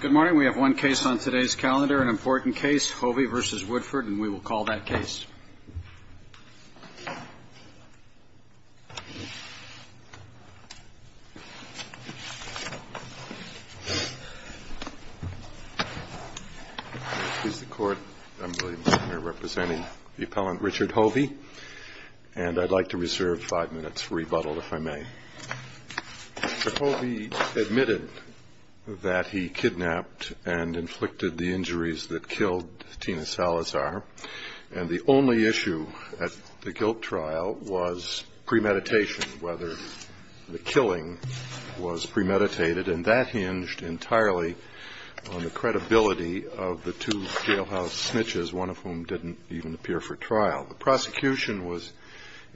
Good morning. We have one case on today's calendar, an important case, Hovey v. Woodford, and we will call that case. Mr. Court, I'm William McNair, representing the appellant Richard Hovey, and I'd like to reserve five minutes for rebuttal, if I may. Mr. Hovey admitted that he kidnapped and inflicted the injuries that killed Tina Salazar, and the only issue at the guilt trial was premeditation, whether the killing was premeditated, and that hinged entirely on the credibility of the two jailhouse snitches, one of whom didn't even appear for trial. The prosecution was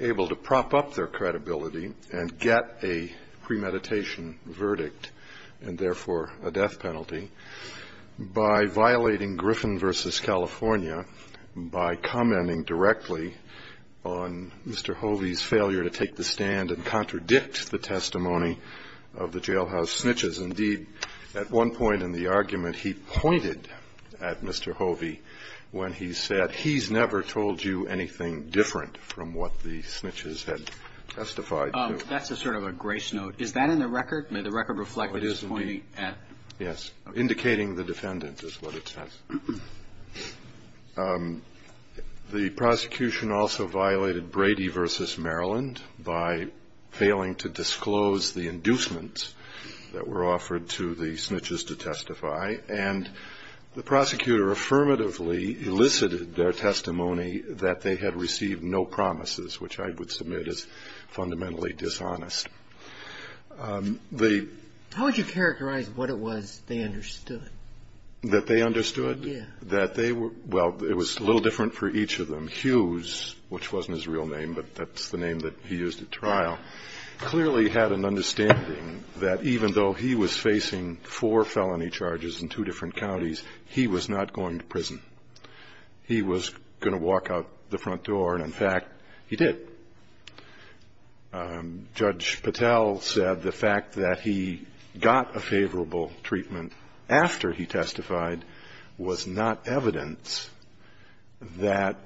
able to prop up their credibility and get a premeditation verdict, and therefore a death penalty, by violating Griffin v. California, by commenting directly on Mr. Hovey's failure to take the stand and contradict the testimony of the jailhouse snitches. Indeed, at one point in the argument, he pointed at Mr. Hovey when he said, he's never told you anything different from what the snitches had testified to. That's a sort of a grace note. Is that in the record? May the record reflect what he's pointing at? Yes. Indicating the defendant is what it says. The prosecution also violated Brady v. Maryland by failing to disclose the inducements that were offered to the snitches to testify, and the prosecutor affirmatively elicited their testimony that they had received no promises, which I would submit is fundamentally dishonest. How would you characterize what it was that they understood? That they understood? Yes. That they were, well, it was a little different for each of them. Hughes, which wasn't his real name, but that's the name that he used at trial, clearly had an understanding that even though he was facing four felony charges in two different counties, he was not going to prison. He was going to walk out the front door, and in fact, he did. Judge Patel said the fact that he got a favorable treatment after he testified was not evidence that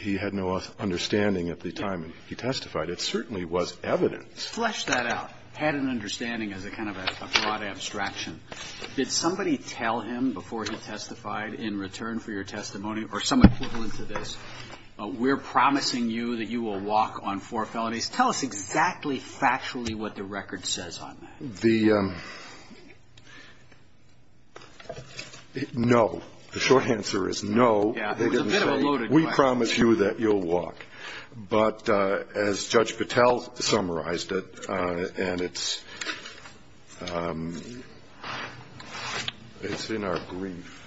he had no understanding at the time he testified. It certainly was evidence. Flesh that out. Had an understanding as a kind of a broad abstraction. Did somebody tell him before he testified in return for your testimony, or some equivalent to this, we're promising you that you will walk on four felonies? Tell us exactly, factually what the record says on that. The, no. The short answer is no, they didn't say, we promise you that you'll walk, but as Judge Patel said, it's in our grief.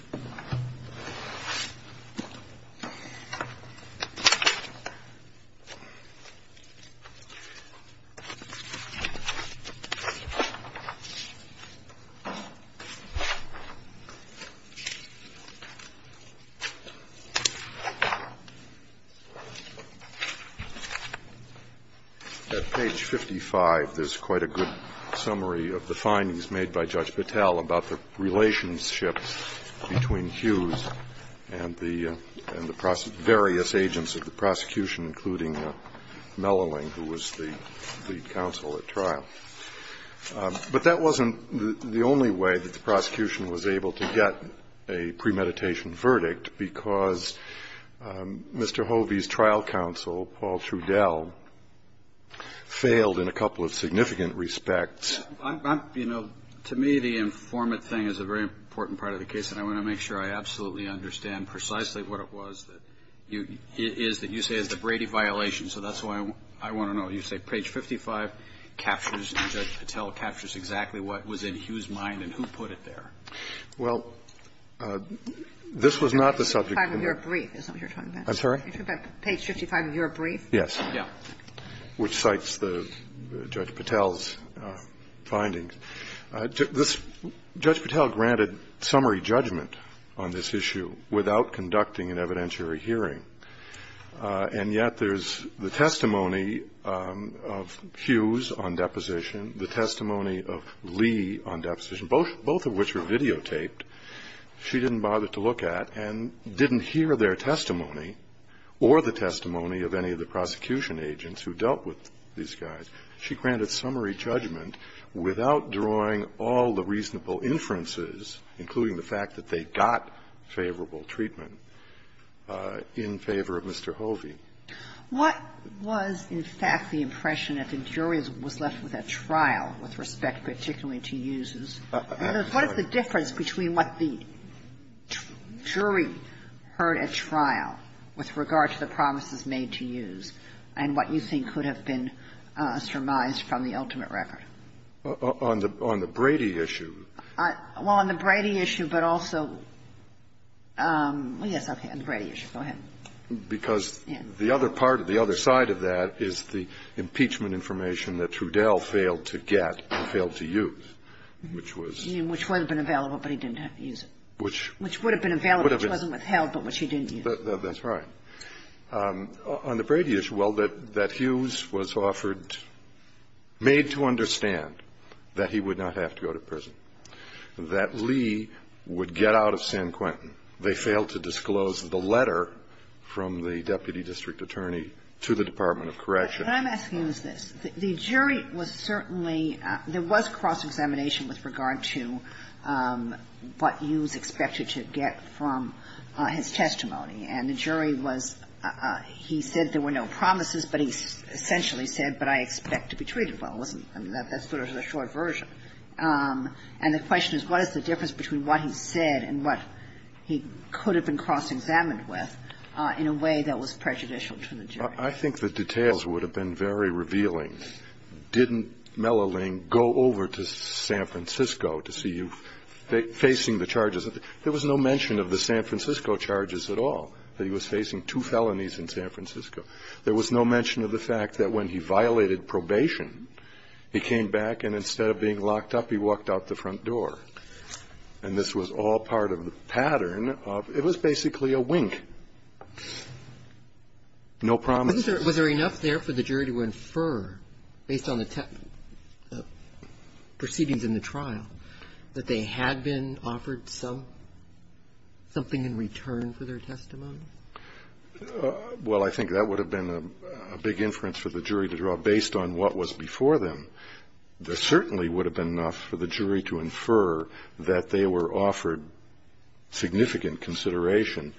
At page 55, there's quite a good summary of the findings made by Judge Patel about the relationship between Hughes and the various agents of the prosecution, including Melloling, who was the counsel at trial. But that wasn't the only way that the prosecution was able to get a premeditation verdict, because Mr. Hovey's trial counsel, Paul Trudell, failed in a couple of significant respects. You know, to me, the informant thing is a very important part of the case, and I want to make sure I absolutely understand precisely what it was that you say is the Brady violation. So that's why I want to know, you say page 55 captures, and Judge Patel captures exactly what was in Hughes' mind, and who put it there? Well, this was not the subject of your brief, is that what you're talking about? I'm sorry? You're talking about page 55 of your brief? Yes. Yeah. So that's page 55, which cites Judge Patel's findings. Judge Patel granted summary judgment on this issue without conducting an evidentiary hearing, and yet there's the testimony of Hughes on deposition, the testimony of Lee on deposition, both of which were videotaped. She didn't bother to look at and didn't hear their testimony, or the testimony of any of the prosecution agents who dealt with these guys. She granted summary judgment without drawing all the reasonable inferences, including the fact that they got favorable treatment in favor of Mr. Hovey. What was, in fact, the impression that the jury was left with at trial with respect particularly to Hughes? I'm sorry? What is the difference between what the jury heard at trial with regard to the promises made to Hughes, and what you think could have been surmised from the ultimate record? On the Brady issue? Well, on the Brady issue, but also – yes, okay, on the Brady issue, go ahead. Because the other part, the other side of that, is the impeachment information that Trudell failed to get, or failed to use, which was – Which would have been available, but he didn't use it. Which – Which would have been available, which wasn't withheld, but which he didn't use. That's right. On the Brady issue, well, that Hughes was offered – made to understand that he would not have to go to prison, that Lee would get out of San Quentin. They failed to disclose the letter from the deputy district attorney to the Department of Corrections. What I'm asking is this. The jury was certainly – there was cross-examination with regard to what Hughes expected to get from his testimony, and the jury was – he said there were no promises, but he essentially said, but I expect to be treated well, and that's sort of the short version. And the question is, what is the difference between what he said and what he could have been cross-examined with, in a way that was prejudicial to the jury? I think the details would have been very revealing. Didn't Melloling go over to San Francisco to see you facing the charges? There was no mention of the San Francisco charges at all, that he was facing two felonies in San Francisco. There was no mention of the fact that when he violated probation, he came back and instead of being locked up, he walked out the front door. And this was all part of the pattern of – it was basically a wink. No promise. Was there enough there for the jury to infer, based on the proceedings in the trial, that they had been offered something in return for their testimony? Well, I think that would have been a big inference for the jury to draw, based on what was before them. There certainly would have been enough for the jury to infer that they were offered significant consideration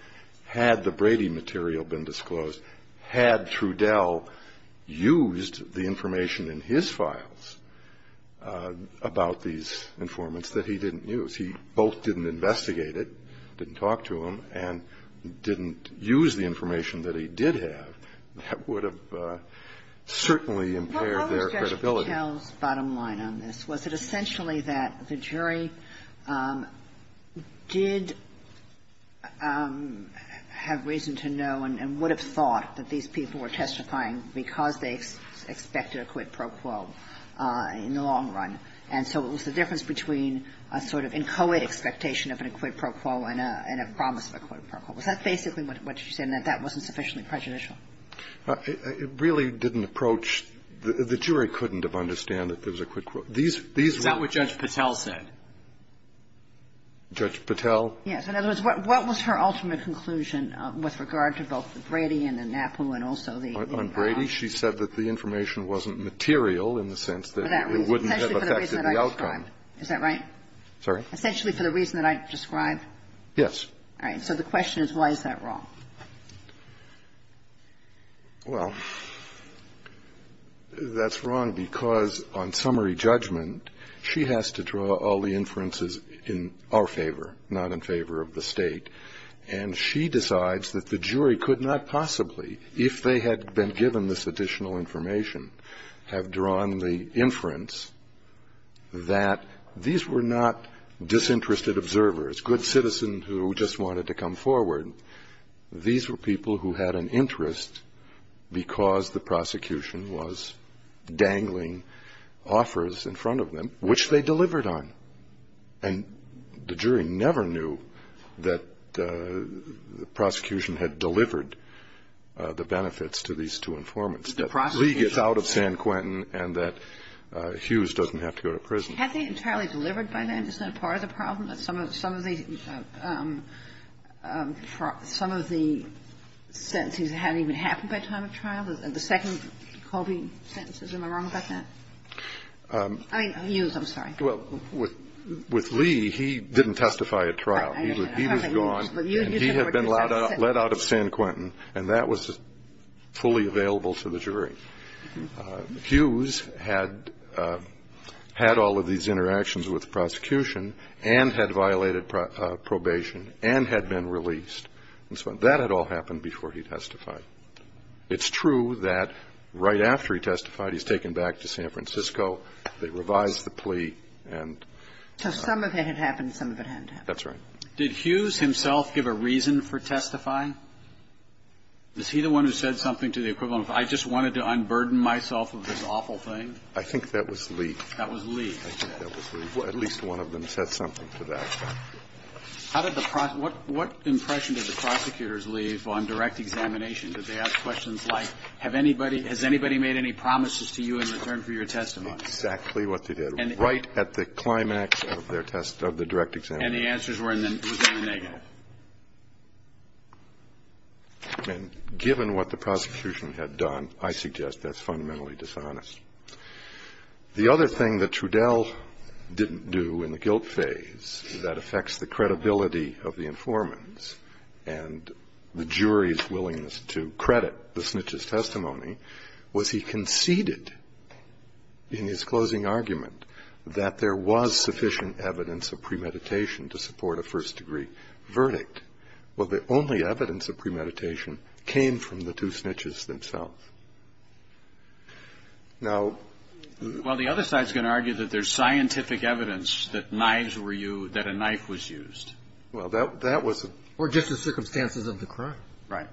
had the Brady material been disclosed, had Trudell used the information in his files about these informants that he didn't use. He both didn't investigate it, didn't talk to him, and didn't use the information that he did have. That would have certainly impaired their credibility. Well, what was Judge Trudell's bottom line on this? Was it essentially that the jury did have reason to know and would have thought that these people were testifying because they expected a quid pro quo in the long run? And so it was the difference between a sort of encoded expectation of a quid pro quo and a promise of a quid pro quo. That's basically what she said, that that wasn't sufficiently prejudicial. It really didn't approach – the jury couldn't have understood that there was a quid pro quo. These – Is that what Judge Patel said? Judge Patel? Yes. In other words, what was her ultimate conclusion with regard to both the Brady and the NAPU and also the – On Brady, she said that the information wasn't material in the sense that it wouldn't have affected the outcome. Is that right? Sorry? Essentially for the reason that I've described? Yes. All right. So the question is, why is that wrong? Well, that's wrong because on summary judgment, she has to draw all the inferences in our favor of the state, and she decides that the jury could not possibly, if they had been given this additional information, have drawn the inference that these were not disinterested observers, good citizens who just wanted to come forward. These were people who had an interest because the prosecution was dangling offers in front of them, which they delivered on. And the jury never knew that the prosecution had delivered the benefits to these two informants, that Lee gets out of San Quentin and that Hughes doesn't have to go to prison. Had they entirely delivered by then? Isn't that part of the problem, that some of the sentences haven't even happened by time of trial? The second Colby sentence, am I wrong about that? I mean, Hughes, I'm sorry. Well, with Lee, he didn't testify at trial. He was gone, and he had been let out of San Quentin, and that was fully available to the jury. Hughes had all of these interactions with the prosecution and had violated probation and had been released, and so that had all happened before he testified. It's true that right after he testified, he was taken back to San Francisco. They revised the plea. So some of it had happened and some of it hadn't happened. That's right. Did Hughes himself give a reason for testifying? Was he the one who said something to the equivalent of, I just wanted to unburden myself of this awful thing? I think that was Lee. That was Lee. I think that was Lee. At least one of them said something to that. What impression did the prosecutors leave on direct examination? Did they ask questions like, has anybody made any promises to you in return for your testimony? That's exactly what they did, right at the climax of the direct examination. And the answers were negative. And given what the prosecution had done, I suggest that's fundamentally dishonest. The other thing that Trudell didn't do in the guilt phase that affects the credibility of the informants and the jury's willingness to credit the snitch's testimony was he conceded in his closing argument that there was sufficient evidence of premeditation to support a first-degree verdict. Well, the only evidence of premeditation came from the two snitches themselves. Well, the other side's going to argue that there's scientific evidence that knives were used, that a knife was used. Or just the circumstances of the crime. Right.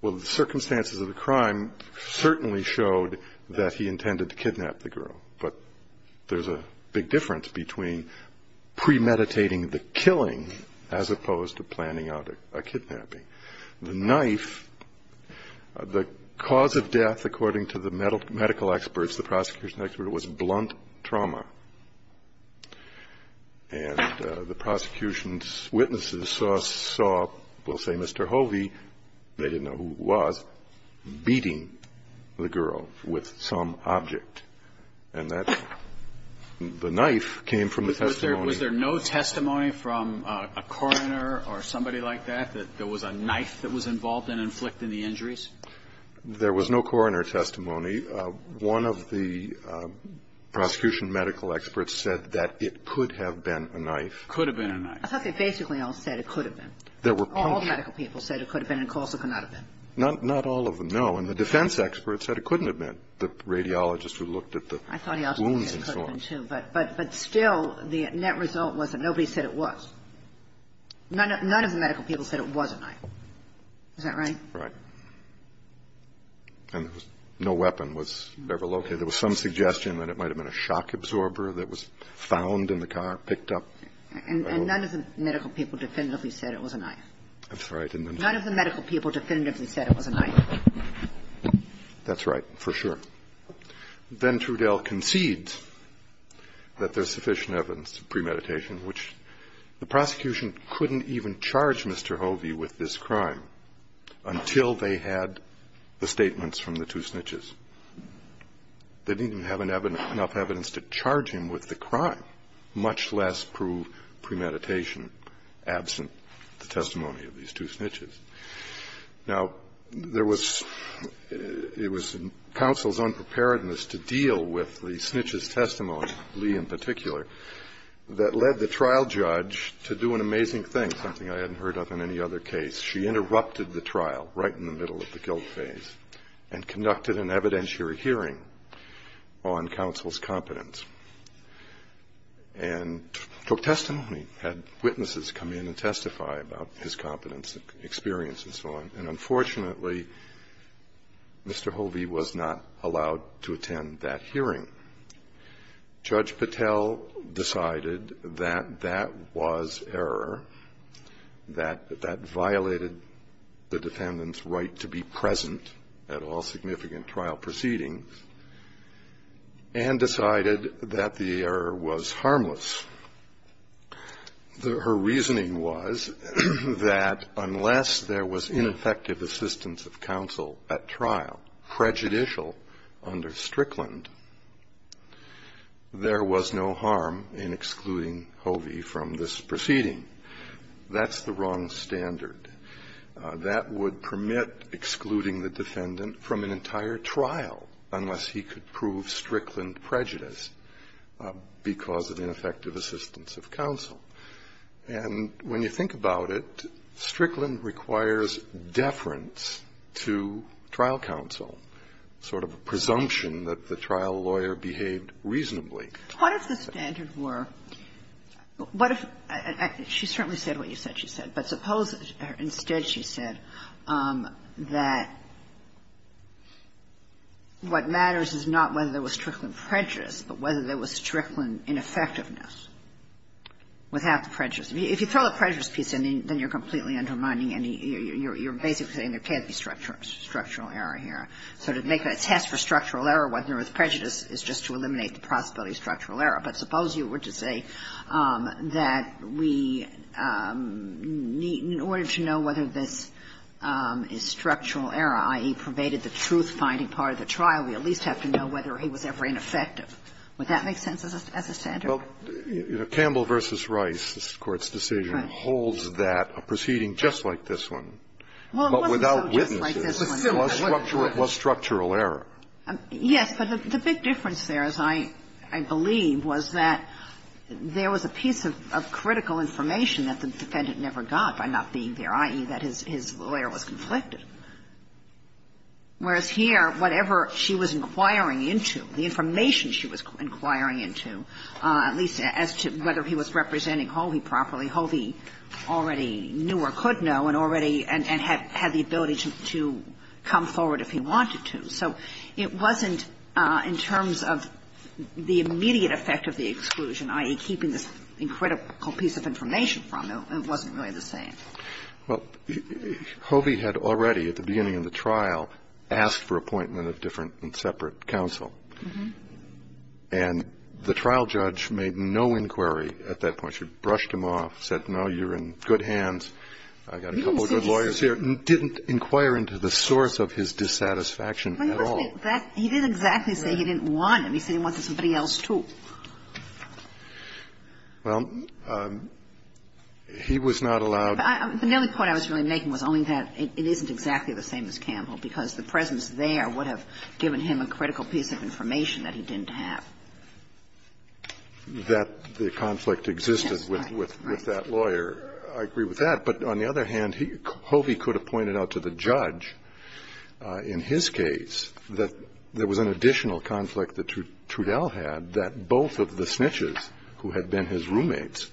Well, the circumstances of the crime certainly showed that he intended to kidnap the girl. But there's a big difference between premeditating the killing as opposed to planning a kidnapping. The knife, the cause of death, according to the medical experts, the prosecution experts, was blunt trauma. And the prosecution's witnesses saw, we'll say Mr. Hovey, they didn't know who it was, beating the girl with some object. And the knife came from the testimony. Was there any testimony from a coroner or somebody like that, that there was a knife that was involved in inflicting the injuries? There was no coroner testimony. One of the prosecution medical experts said that it could have been a knife. Could have been a knife. I thought they basically all said it could have been. All medical people said it could have been because of the knife. Not all of them, no. And the defense experts said it couldn't have been. The radiologists who looked at the wounds and so on. But still, the net result was that nobody said it was. None of the medical people said it was a knife. Is that right? Right. And no weapon was ever located. There was some suggestion that it might have been a shock absorber that was found in the car, picked up. And none of the medical people definitively said it was a knife. That's right. None of the medical people definitively said it was a knife. That's right, for sure. Then Trudell concedes that there's sufficient evidence of premeditation, which the prosecution couldn't even charge Mr. Hovey with this crime until they had the statements from the two snitches. They didn't even have enough evidence to charge him with the crime, much less prove premeditation absent the testimony of these two snitches. Now, it was counsel's unpreparedness to deal with the snitch's testimony, Lee in particular, that led the trial judge to do an amazing thing, something I hadn't heard of in any other case. She interrupted the trial right in the middle of the guilt phase and conducted an evidentiary hearing on counsel's competence and took testimony, had witnesses come in and testify about his competence and experience and so on. And unfortunately, Mr. Hovey was not allowed to attend that hearing. Judge Patel decided that that was error, that that violated the defendant's right to be present at all significant trial proceedings and decided that the error was harmless. Her reasoning was that unless there was ineffective assistance of counsel at trial, prejudicial under Strickland, there was no harm in excluding Hovey from this proceeding. That's the wrong standard. That would permit excluding the defendant from an entire trial unless he could prove Strickland prejudice because of ineffective assistance of counsel. And when you think about it, Strickland requires deference to trial counsel, sort of a presumption that the trial lawyer behaved reasonably. What if the standards were, what if, she certainly said what you said she said, but suppose instead she said that what matters is not whether there was Strickland prejudice but whether there was Strickland ineffectiveness without prejudice. If you throw the prejudice piece in, then you're completely undermining any, you're basically saying there can't be structural error here. So to make a test for structural error, whether there was prejudice, is just to eliminate the possibility of structural error. But suppose you were to say that we need, in order to know whether this is structural error, i.e., pervaded the truth by any part of the trial, we at least have to know whether he was ever ineffective. Would that make sense as a standard? Well, Campbell v. Rice, this Court's decision, holds that a proceeding just like this one, but without witnesses, plus structural error. Yes, but the big difference there, as I believe, was that there was a piece of critical information that the defendant never got by not being there, i.e., that his lawyer was inflected. Whereas here, whatever she was inquiring into, the information she was inquiring into, at least as to whether he was representing Hovey properly, Hovey already knew or could know and had the ability to come forward if he wanted to. So it wasn't, in terms of the immediate effect of the exclusion, i.e., keeping this critical piece of information from him, it wasn't really the same. Well, Hovey had already, at the beginning of the trial, asked for appointment of different and separate counsel. And the trial judge made no inquiry at that point. She brushed him off, said, no, you're in good hands. I've got a couple of good lawyers here. He didn't inquire into the source of his dissatisfaction at all. He didn't exactly say he didn't want him. He said he wanted somebody else, too. Well, he was not allowed. The only point I was really making was only that it isn't exactly the same as Campbell, because the presence there would have given him a critical piece of information that he didn't have. That the conflict existed with that lawyer, I agree with that. But on the other hand, Hovey could have pointed out to the judge, in his case, that there was an additional conflict that Trudell had, that both of the snitches who had been his roommates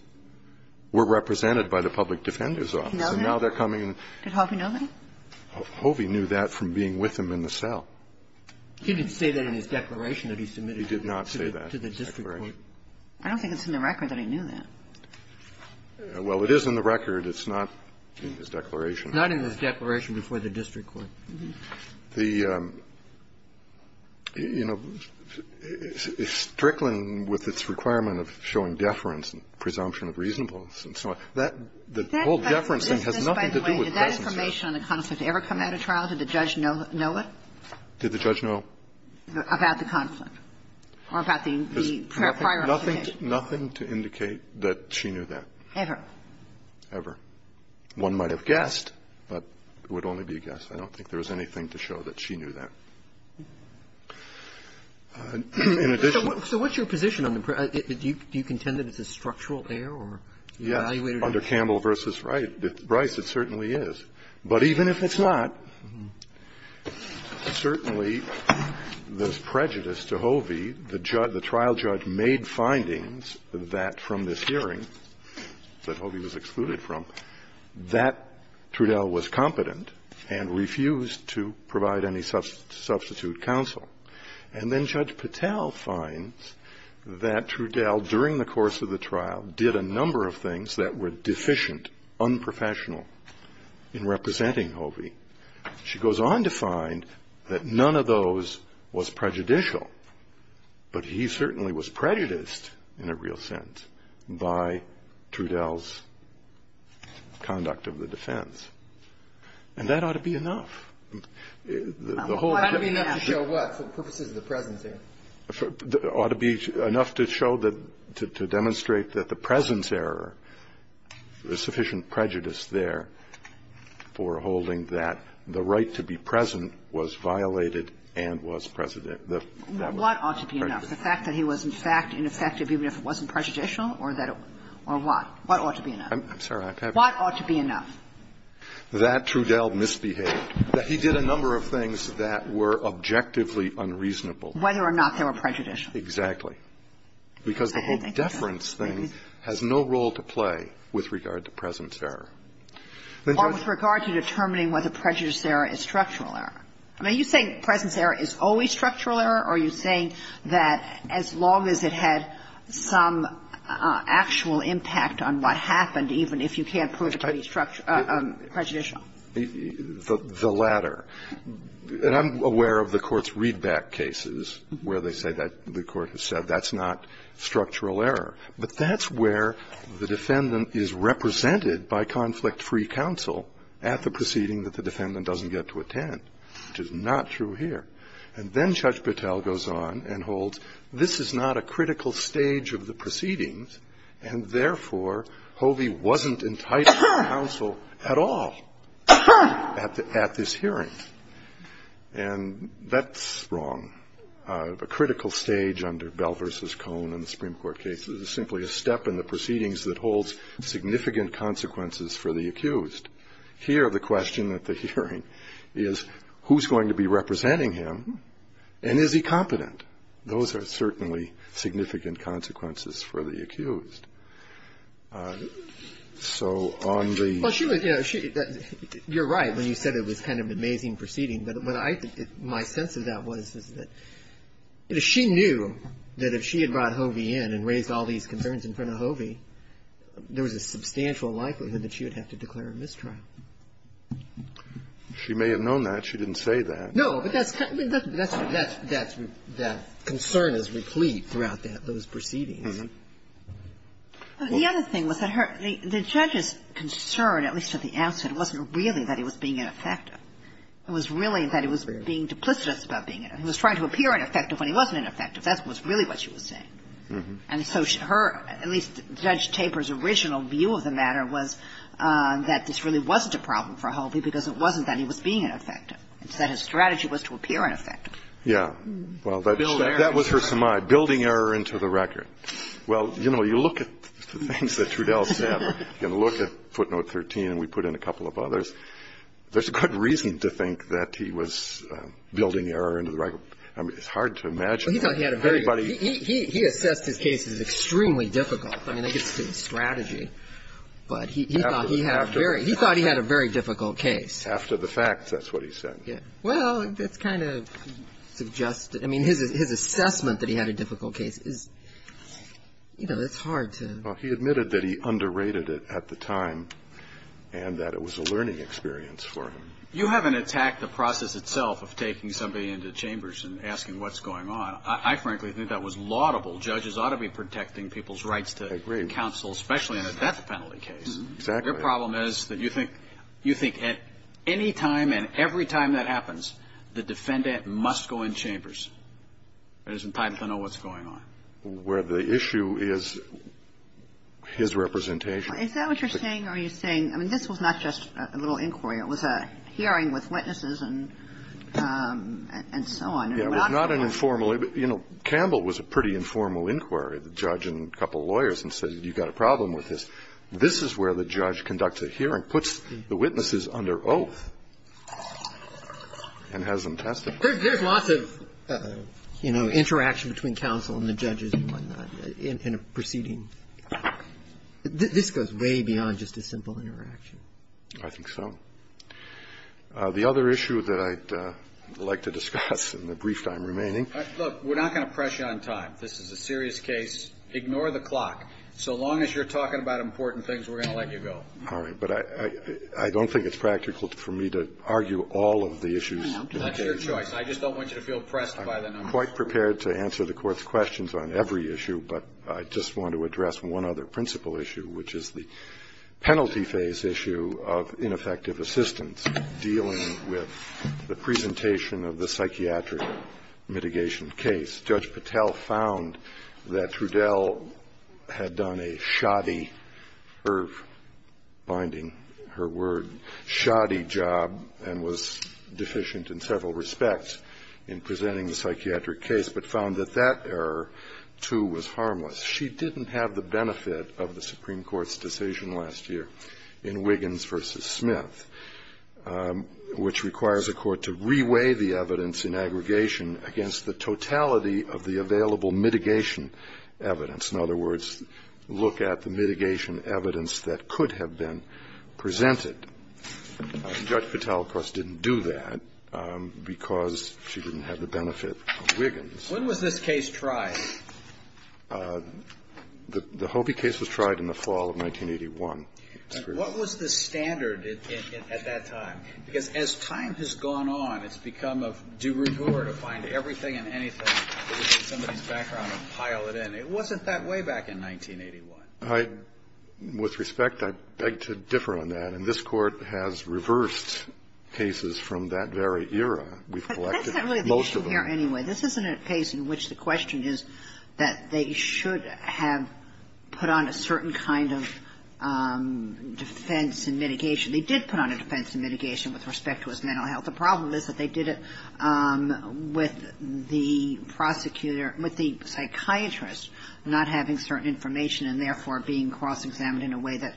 were represented by the public defender's office. And now they're coming in. Did Hoffman know that? Hovey knew that from being with him in the cell. He didn't say that in his declaration that he submitted it. He did not say that in his declaration. I don't think it's in the record that he knew that. Well, it is in the record. It's not in his declaration. Not in his declaration before the district court. The, you know, Strickland, with its requirement of showing deference and presumption of reasonableness and so on, the whole deference thing has nothing to do with the presence there. By the way, did that information on the conflict ever come out of trial? Did the judge know it? Did the judge know? About the conflict? Or about the prior activity? Nothing to indicate that she knew that. Ever? Ever. One might have guessed, but it would only be a guess. I don't think there was anything to show that she knew that. So what's your position? Do you contend that it's a structural error? Yes. Under Campbell v. Bryce, it certainly is. But even if it's not, certainly there's prejudice to Hovey. The trial judge made findings that from this hearing, that Hovey was excluded from, that Trudell was competent and refused to provide any substitute counsel. And then Judge Patel finds that Trudell, during the course of the trial, did a number of things that were deficient, unprofessional in representing Hovey. She goes on to find that none of those was prejudicial, but he certainly was prejudiced in a real sense by Trudell's conduct of the defense. And that ought to be enough. That ought to be enough to show what? The purposes of the presence there? Ought to be enough to show that, to demonstrate that the presence error, there's sufficient prejudice there for holding that the right to be present was violated and was present. What ought to be enough? The fact that he was, in fact, ineffective even if it wasn't prejudicial? Or what? What ought to be enough? I'm sorry, I can't hear you. What ought to be enough? That Trudell misbehaved. That he did a number of things that were objectively unreasonable. Whether or not they were prejudicial. Exactly. Because the whole deference thing has no role to play with regard to presence error. Or with regard to determining whether prejudice there is structural error. Now, you think presence error is always structural error, or you think that as long as it had some actual impact on what happened, even if you can't prove it to be prejudicial? The latter. And I'm aware of the court's read-back cases where they say that the court has said that's not structural error. But that's where the defendant is represented by conflict-free counsel at the proceeding that the defendant doesn't get to attend, which is not true here. And then Judge Patel goes on and holds this is not a critical stage of the proceedings, and therefore Hovey wasn't enticing counsel at all at this hearing. And that's wrong. A critical stage under Bell v. Cohn in the Supreme Court case is simply a step in the proceedings that holds significant consequences for the accused. Here the question at the hearing is who's going to be representing him, and is he competent? Those are certainly significant consequences for the accused. So on the... Well, you're right when you said it was kind of an amazing proceeding, but my sense of that was that if she knew that if she had brought Hovey in and raised all these concerns in front of Hovey, there was a substantial likelihood that she would have to declare a mistrial. She may have known that. She didn't say that. No, but that concern is replete throughout those proceedings. The other thing was that the judge's concern, at least at the outset, wasn't really that he was being ineffective. It was really that he was being duplicitous about being ineffective. He was trying to appear ineffective when he wasn't ineffective. That was really what she was saying. And so her, at least Judge Taper's original view of the matter, was that this really wasn't a problem for Hovey because it wasn't that he was being ineffective. It's that his strategy was to appear ineffective. Yeah. Well, that was her semi. Building error into the record. Well, you know, you look at the things that Trudell said and look at footnote 13 and we put in a couple of others, there's a good reason to think that he was building error into the record. I mean, it's hard to imagine. He assessed his case as extremely difficult. I mean, I guess it's his strategy. But he thought he had a very difficult case. After the fact, that's what he said. Well, I'm just kind of suggesting. I mean, his assessment that he had a difficult case is, you know, it's hard to. Well, he admitted that he underrated it at the time and that it was a learning experience for him. You haven't attacked the process itself of taking somebody into chambers and asking what's going on. I frankly think that was laudable. Judges ought to be protecting people's rights to counsel, especially in a death penalty case. Exactly. The problem is that you think at any time and every time that happens, the defendant must go in chambers. There isn't time to know what's going on. Well, the issue is his representation. Is that what you're saying? Are you saying, I mean, this was not just a little inquiry. It was a hearing with witnesses and so on. Yeah, it was not an informal. You know, Campbell was a pretty informal inquiry, the judge and a couple of lawyers, and said you've got a problem with this. This is where the judge conducts a hearing, puts the witnesses under oath, and has them testified. There's lots of, you know, interaction between counsel and the judges in a proceeding. This goes way beyond just a simple interaction. I think so. The other issue that I'd like to discuss in the brief time remaining. Look, we're not going to press you on time. This is a serious case. Ignore the clock. So long as you're talking about important things, we're going to let you go. All right. But I don't think it's practical for me to argue all of the issues. That's your choice. I just don't want you to feel pressed by the numbers. I'm quite prepared to answer the Court's questions on every issue, but I just want to address one other principal issue, which is the penalty phase issue of ineffective assistance, dealing with the presentation of the psychiatric mitigation case. Judge Patel found that Trudell had done a shoddy, binding her word, shoddy job and was deficient in several respects in presenting the psychiatric case, but found that that error, too, was harmless. She didn't have the benefit of the Supreme Court's decision last year in Wiggins v. Smith, which requires a court to reweigh the evidence in aggregation against the totality of the available mitigation evidence. In other words, look at the mitigation evidence that could have been presented. Judge Patel, of course, didn't do that because she didn't have the benefit of Wiggins. When was this case tried? The Hobey case was tried in the fall of 1981. What was the standard at that time? Because as time has gone on, it's become a de rigueur to find everything and anything that is in somebody's background and pile it in. It wasn't that way back in 1981. With respect, I beg to differ on that, and this Court has reversed cases from that very era. But that's not really the issue here anyway. This isn't a case in which the question is that they should have put on a certain kind of defense and mitigation. They did put on a defense and mitigation with respect to his mental health. The problem is that they did it with the psychiatrist not having certain information and therefore being cross-examined in a way that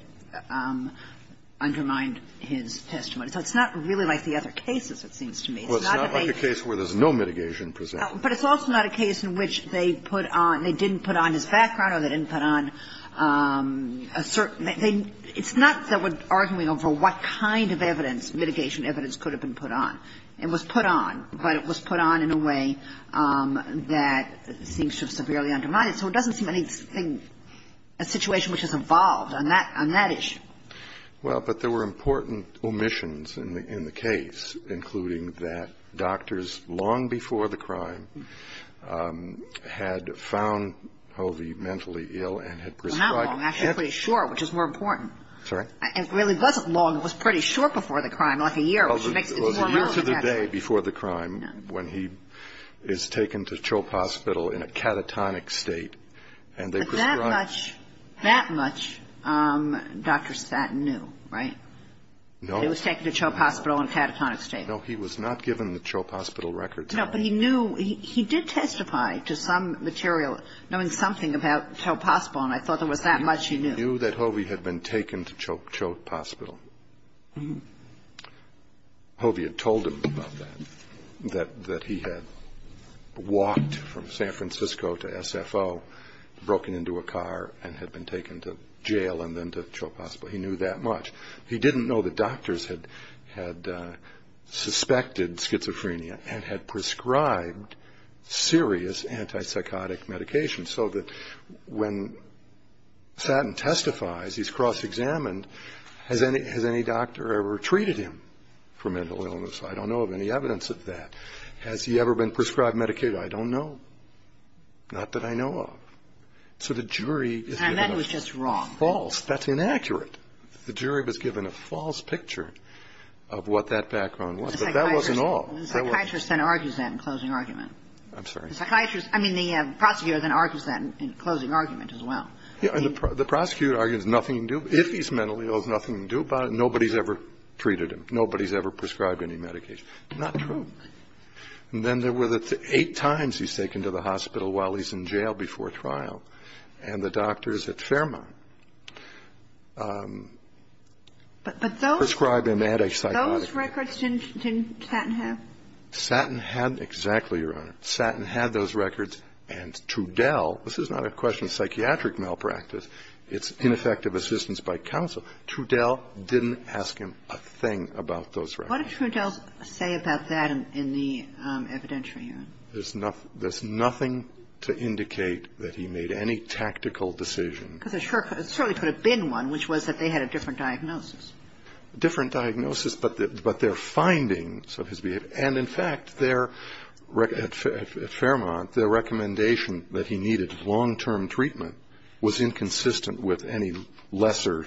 undermined his testimony. So it's not really like the other cases, it seems to me. Well, it's not like a case where there's no mitigation presented. But it's also not a case in which they didn't put on his background or they didn't put on a certain – it's not that we're arguing over what kind of mitigation evidence could have been put on. It was put on, but it was put on in a way that seems to severely undermine it. So it doesn't seem to me a situation which is involved on that issue. Well, but there were important omissions in the case, including that doctors long before the crime had found Hovie mentally ill and had prescribed – Well, not long, actually, pretty short, which is more important. Sorry? It really wasn't long. It was pretty short before the crime, like a year. Well, the rest of the day before the crime when he is taken to Chope Hospital in a catatonic state and they prescribed – That much Dr. Stanton knew, right? No. He was taken to Chope Hospital in a catatonic state. No, he was not given the Chope Hospital records. No, but he knew – he did testify to some material, knowing something about Chope Hospital, and I thought there was that much he knew. He knew that Hovie had been taken to Chope Hospital. Hovie had told him about that, that he had walked from San Francisco to SFO, broken into a car, and had been taken to jail and then to Chope Hospital. He knew that much. He didn't know that doctors had suspected schizophrenia and had prescribed serious antipsychotic medications so that when Stanton testifies, he's cross-examined, has any doctor ever treated him for mental illness? I don't know of any evidence of that. Has he ever been prescribed Medicaid? I don't know. Not that I know of. So the jury – And that was just wrong. False. That's inaccurate. The jury was given a false picture of what that background was, but that wasn't all. The psychiatrist then argues that in closing argument. I'm sorry? The psychiatrist – I mean, the prosecutor then argues that in closing argument as well. The prosecutor argues that if he's mentally ill, there's nothing he can do about it. Nobody's ever treated him. Nobody's ever prescribed any medication. Not true. And then there were the eight times he's taken to the hospital while he's in jail before trial, and the doctors at Fairmont prescribed an antipsychotic. But those records didn't Stanton have? Stanton had – exactly, Your Honor. Stanton had those records. And Trudell – this is not a question of psychiatric malpractice. It's ineffective assistance by counsel. Trudell didn't ask him a thing about those records. What did Trudell say about that in the evidentiary, Your Honor? There's nothing to indicate that he made any tactical decision. Because there certainly could have been one, which was that they had a different diagnosis. Different diagnosis, but their findings of his behavior – And, in fact, at Fairmont, the recommendation that he needed long-term treatment was inconsistent with any lesser,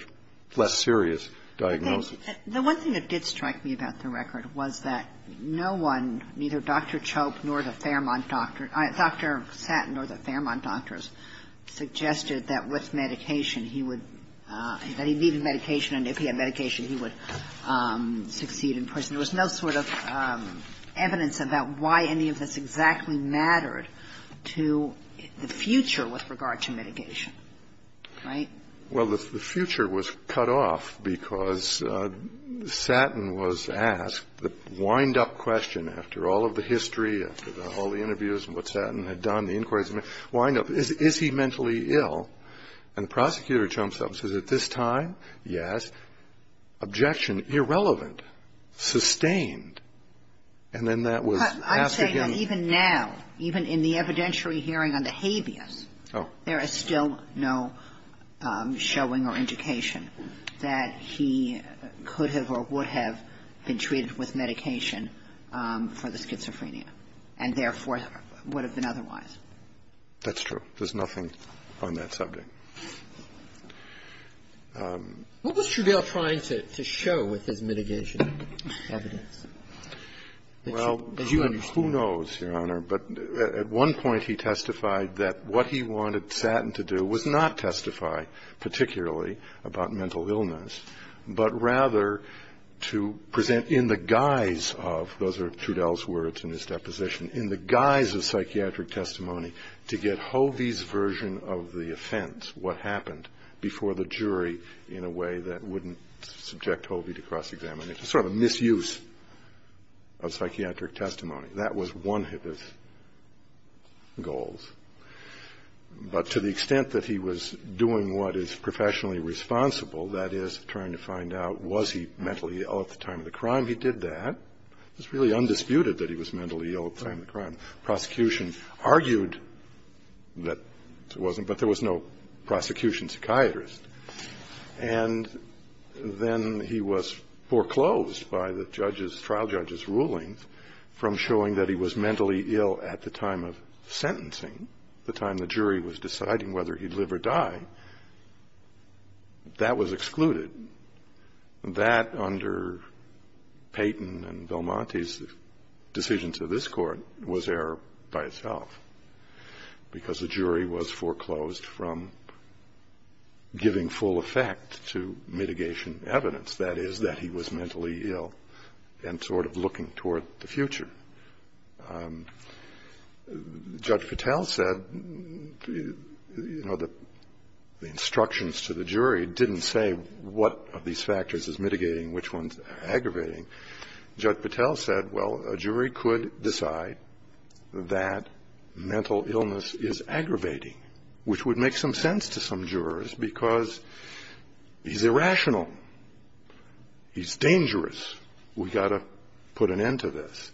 less serious diagnosis. The one thing that did strike me about the record was that no one, neither Dr. Chope nor the Fairmont doctors – Dr. Stanton nor the Fairmont doctors suggested that with medication he would – that he needed medication, and if he had medication, he would succeed in prison. There was no sort of evidence about why any of this exactly mattered to the future with regard to mitigation, right? Well, the future was cut off because Stanton was asked the wind-up question after all of the history, after all the interviews and what Stanton had done, the inquiries – wind up, is he mentally ill? And the prosecutor jumps up and says, at this time, yes. Objection, irrelevant, sustained, and then that was asked again. But I say that even now, even in the evidentiary hearing on the habeas, there is still no showing or indication that he could have or would have been treated with medication for the schizophrenia and therefore would have been otherwise. That's true. There's nothing on that subject. What was Trudell trying to show with his mitigation evidence? Well, who knows, Your Honor, but at one point he testified that what he wanted Stanton to do was not testify particularly about mental illness, but rather to present in the guise of – those are Trudell's words in his deposition – in the guise of psychiatric testimony to get Hovey's version of the offense, what happened before the jury, in a way that wouldn't subject Hovey to cross-examine. It's a sort of misuse of psychiatric testimony. That was one of his goals. But to the extent that he was doing what is professionally responsible, that is trying to find out was he mentally ill at the time of the crime, he did that. It's really undisputed that he was mentally ill at the time of the crime. Prosecution argued that he wasn't, but there was no prosecution psychiatrist. And then he was foreclosed by the trial judge's rulings from showing that he was mentally ill at the time of sentencing, the time the jury was deciding whether he'd live or die. That was excluded. That, under Payton and Belmonte's decision to this court, was error by itself, because the jury was foreclosed from giving full effect to mitigation evidence, that is, that he was mentally ill and sort of looking toward the future. Judge Patel said, you know, the instructions to the jury didn't say what of these factors is mitigating, which one's aggravating. Judge Patel said, well, a jury could decide that mental illness is aggravating, which would make some sense to some jurors because he's irrational, he's dangerous, we've got to put an end to this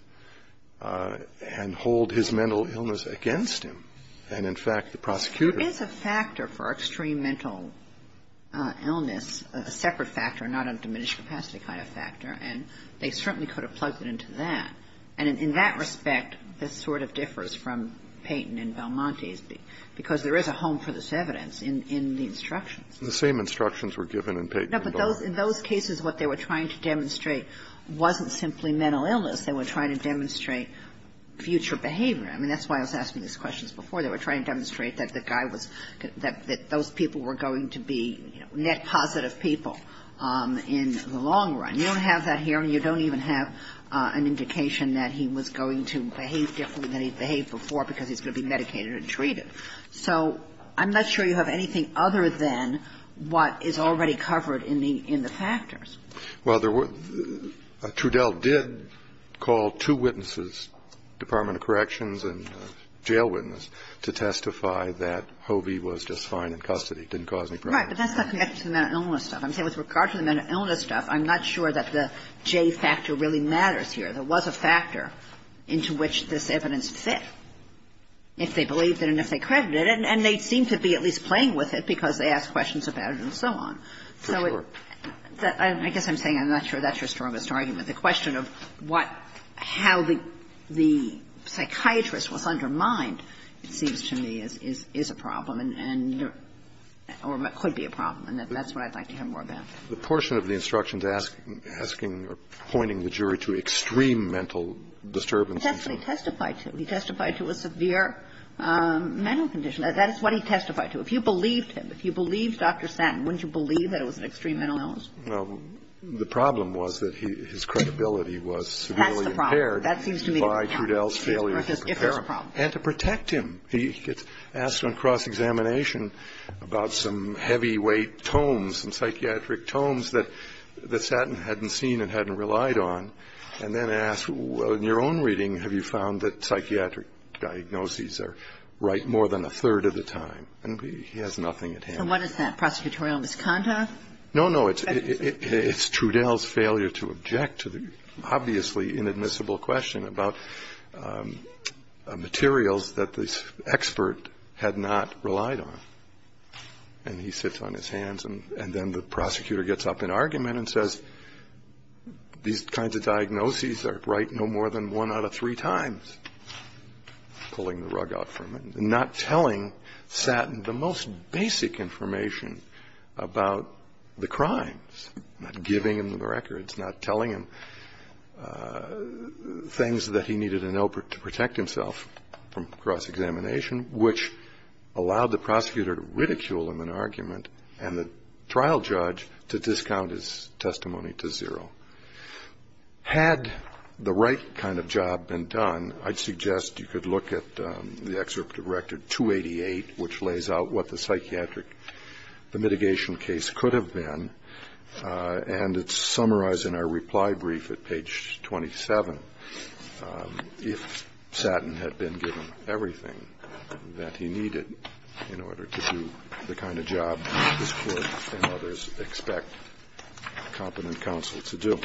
and hold his mental illness against him. And, in fact, the prosecutor- It's a factor for extreme mental illness, a separate factor, not a diminished capacity kind of factor, and they certainly could have plugged it into that. And in that respect, this sort of differs from Payton and Belmonte's, because there is a home for this evidence in the instructions. The same instructions were given in Payton and Belmonte. No, but in those cases, what they were trying to demonstrate wasn't simply mental illness. They were trying to demonstrate future behavior. I mean, that's why I was asking these questions before. They were trying to demonstrate that those people were going to be net positive people in the long run. You don't have that here, and you don't even have an indication that he was going to behave differently than he's behaved before because he's going to be medicated and treated. So I'm not sure you have anything other than what is already covered in the factors. Well, Trudell did call two witnesses, Department of Corrections and a jail witness, to testify that Hovey was just fine in custody, didn't cause any problems. Right, but that's not connected to the mental illness stuff. I'm saying with regard to the mental illness stuff, I'm not sure that the J factor really matters here. There was a factor into which this evidence fit. If they believed it and if they credited it, and they seem to be at least playing with it because they asked questions about it and so on. So I guess I'm saying I'm not sure that's your strongest argument. The question of how the psychiatrist was undermined seems to me is a problem or could be a problem, and that's what I'd like to hear more about. The portion of the instructions pointing the jury to extreme mental disturbance. It's actually testified to. He testified to a severe mental condition. That is what he testified to. If you believed him, if you believed Dr. Satton, wouldn't you believe that it was an extreme mental illness? Well, the problem was that his credibility was severely impaired by Trudell's failure to prepare and to protect him. He gets asked on cross-examination about some heavyweight tomes, some psychiatric tomes that Satton hadn't seen and hadn't relied on, and then asked, well, in your own reading, have you found that psychiatric diagnoses are right more than a third of the time? And he has nothing at hand. And what is that, prosecutorial misconduct? No, no. It's Trudell's failure to object to the obviously inadmissible question about materials that the expert had not relied on. And he sits on his hands, and then the prosecutor gets up in argument and says, these kinds of diagnoses are right no more than one out of three times, pulling the rug out for him, not telling Satton the most basic information about the crimes, not giving him the records, not telling him things that he needed to know to protect himself from cross-examination, which allowed the prosecutor to ridicule him in argument and the trial judge to discount his testimony to zero. Had the right kind of job been done, I'd suggest you could look at the excerpt of Record 288, which lays out what the psychiatric mitigation case could have been, and it's summarized in our reply brief at page 27 if Satton had been given everything that he needed in order to do the kind of job that this Court and others expect complement counsel to do.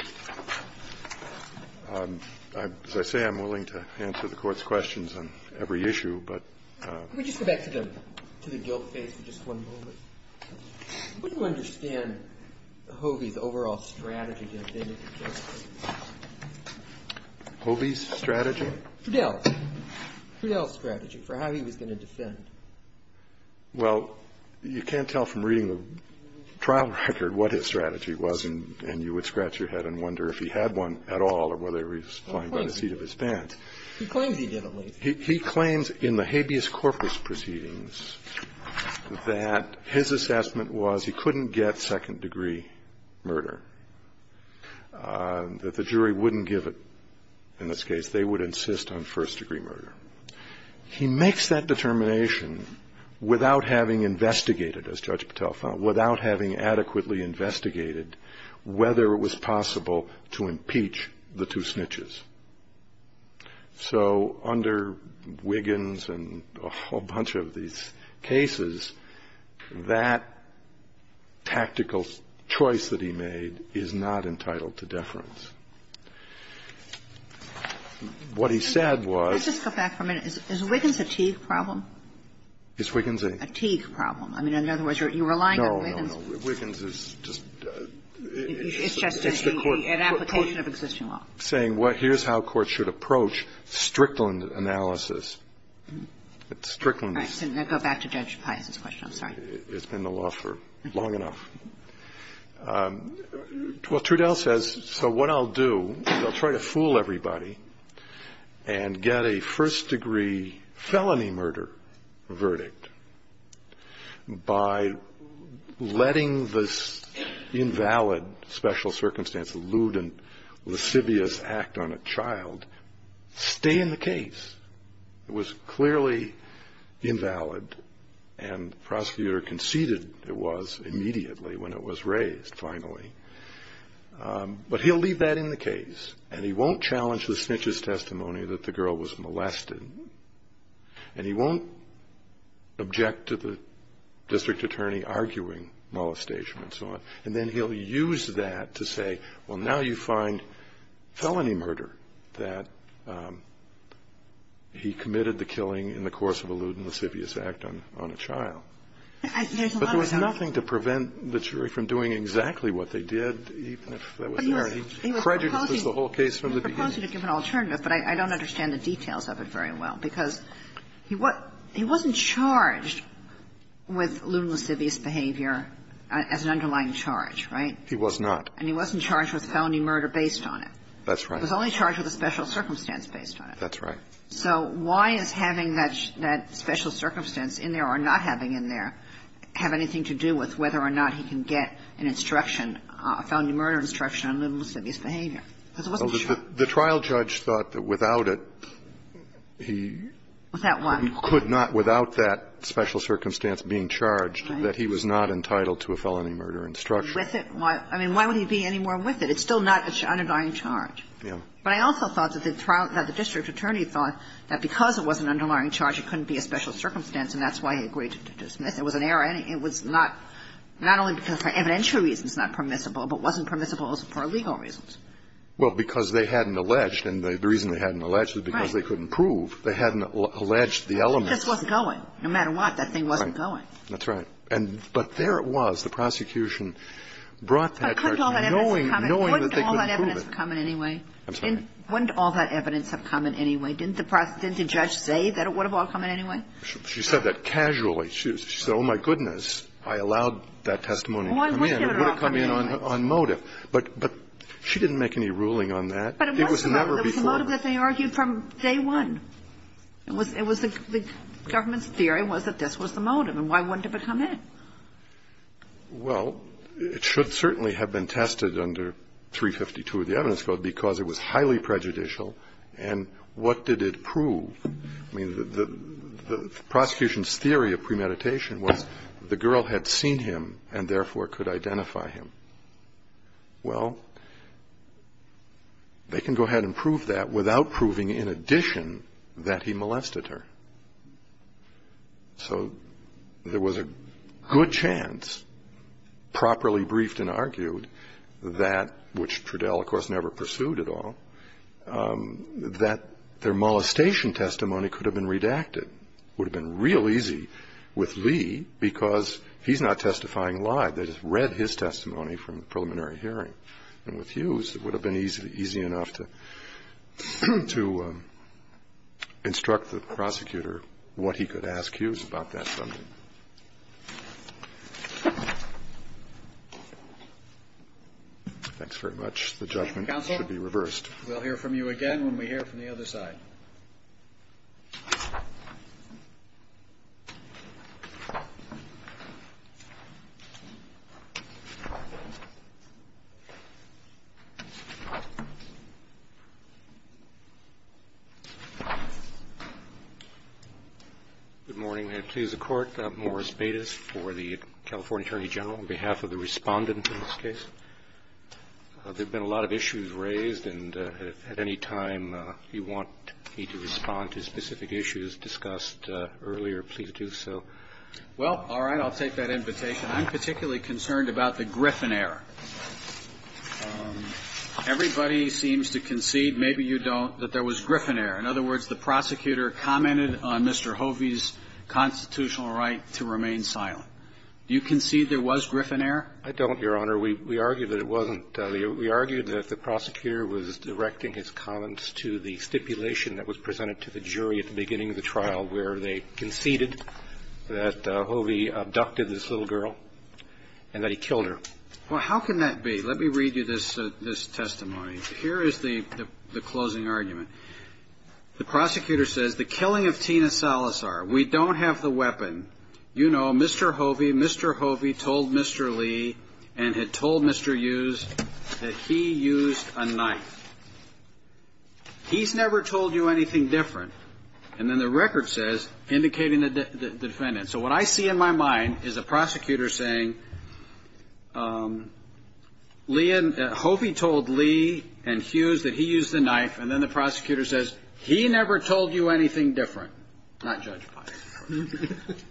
As I say, I'm willing to answer the Court's questions on every issue, but... Can we just go back to the guilt case for just one moment? Would you understand Hobie's overall strategy? Hobie's strategy? Fidel. Fidel's strategy for how he was going to defend. Well, you can't tell from reading the trial record what his strategy was, and you would scratch your head and wonder if he had one at all or whether he was playing by the feet of his pants. He claimed he did, at least. That his assessment was he couldn't get second-degree murder. That the jury wouldn't give it, in this case. They would insist on first-degree murder. He makes that determination without having investigated, as Judge Patel found, without having adequately investigated whether it was possible to impeach the two snitches. So, under Wiggins and a whole bunch of these cases, that tactical choice that he made is not entitled to deference. What he said was... Let's just go back for a minute. Is Wiggins a chief problem? Is Wiggins a... A chief problem. I mean, in other words, you're relying on Wiggins. No, no, no. Wiggins is just... It's just an application of existing law. Saying, here's how courts should approach Strickland analysis. Strickland... All right. Then go back to Judge Patel's question. I'm sorry. It's been the law for long enough. Well, Trudell says, so what I'll do is I'll try to fool everybody and get a first-degree felony murder verdict by letting the invalid special circumstances, lewd and lascivious act on a child, stay in the case. It was clearly invalid and the prosecutor conceded it was immediately when it was raised, finally. But he'll leave that in the case and he won't challenge the snitch's testimony that the girl was molested and he won't object to the district attorney arguing molestation and so on. And then he'll use that to say, well, now you find felony murder that he committed the killing in the course of a lewd and lascivious act on a child. But there was nothing to prevent the jury from doing exactly what they did. He prejudged the whole case from the beginning. I wanted to give an alternative, but I don't understand the details of it very well. Because he wasn't charged with lewd and lascivious behavior as an underlying charge, right? He was not. And he wasn't charged with felony murder based on it. That's right. He was only charged with a special circumstance based on it. That's right. So why is having that special circumstance in there or not having it in there have anything to do with whether or not he can get an instruction, a felony murder instruction on lewd and lascivious behavior? Because it wasn't true. The trial judge thought that without it, he could not, without that special circumstance being charged, that he was not entitled to a felony murder instruction. I mean, why would he be anymore with it? It's still not an underlying charge. But I also thought that the district attorney thought that because it was an underlying charge, it couldn't be a special circumstance, and that's why he agreed to dismiss it. It was an error. Not only because for evidential reasons it's not permissible, but it wasn't permissible for legal reasons. Well, because they hadn't alleged, and the reason they hadn't alleged is because they couldn't prove. They hadn't alleged the element. It just wasn't going. No matter what, that thing wasn't going. That's right. But there it was. The prosecution brought that charge knowing that they couldn't prove it. But couldn't all that evidence have come in anyway? I'm sorry? Couldn't all that evidence have come in anyway? Didn't the judge say that it would have all come in anyway? She said that casually. She said, oh, my goodness, I allowed that testimony to come in. It would have come in on motive. But she didn't make any ruling on that. But it was the motive that they argued from day one. The government's theory was that this was the motive, and why wouldn't it have come in? Well, it should certainly have been tested under 352 of the evidence code because it was highly prejudicial, and what did it prove? The prosecution's theory of premeditation was the girl had seen him and, therefore, could identify him. Well, they can go ahead and prove that without proving in addition that he molested her. So there was a good chance, properly briefed and argued, that, which Trudell, of course, never pursued at all, that their molestation testimony could have been redacted. It would have been real easy with Lee because he's not testifying live. They just read his testimony from the preliminary hearing. And with Hughes, it would have been easy enough to instruct the prosecutor what he could ask Hughes about that. Thanks very much. The judgment should be reversed. Counsel, we'll hear from you again when we hear from the other side. Good morning. May it please the Court, Morris Bates for the California Attorney General, on behalf of the respondent to this case. There have been a lot of issues raised, and at any time you want me to respond to specific issues discussed earlier, please do so. Well, all right. I'll take that invitation. I'm particularly concerned about the Gryphon error. Everybody seems to concede, maybe you don't, that there was Gryphon error. In other words, the prosecutor commented on Mr. Hovey's constitutional right to remain silent. Do you concede there was Gryphon error? I don't, Your Honor. We argue that it wasn't. We argue that the prosecutor was directing his comments to the stipulation that was presented to the jury at the beginning of the trial, where they conceded that Hovey abducted this little girl and that he killed her. Well, how can that be? Let me read you this testimony. Here is the closing argument. The prosecutor says, the killing of Tina Salazar. We don't have the weapon. You know, Mr. Hovey, Mr. Hovey told Mr. Lee and had told Mr. Hughes that he used a knife. He's never told you anything different. And then the record says, indicating the defendant. So what I see in my mind is a prosecutor saying, Hovey told Lee and Hughes that he used a knife, and then the prosecutor says, he never told you anything different.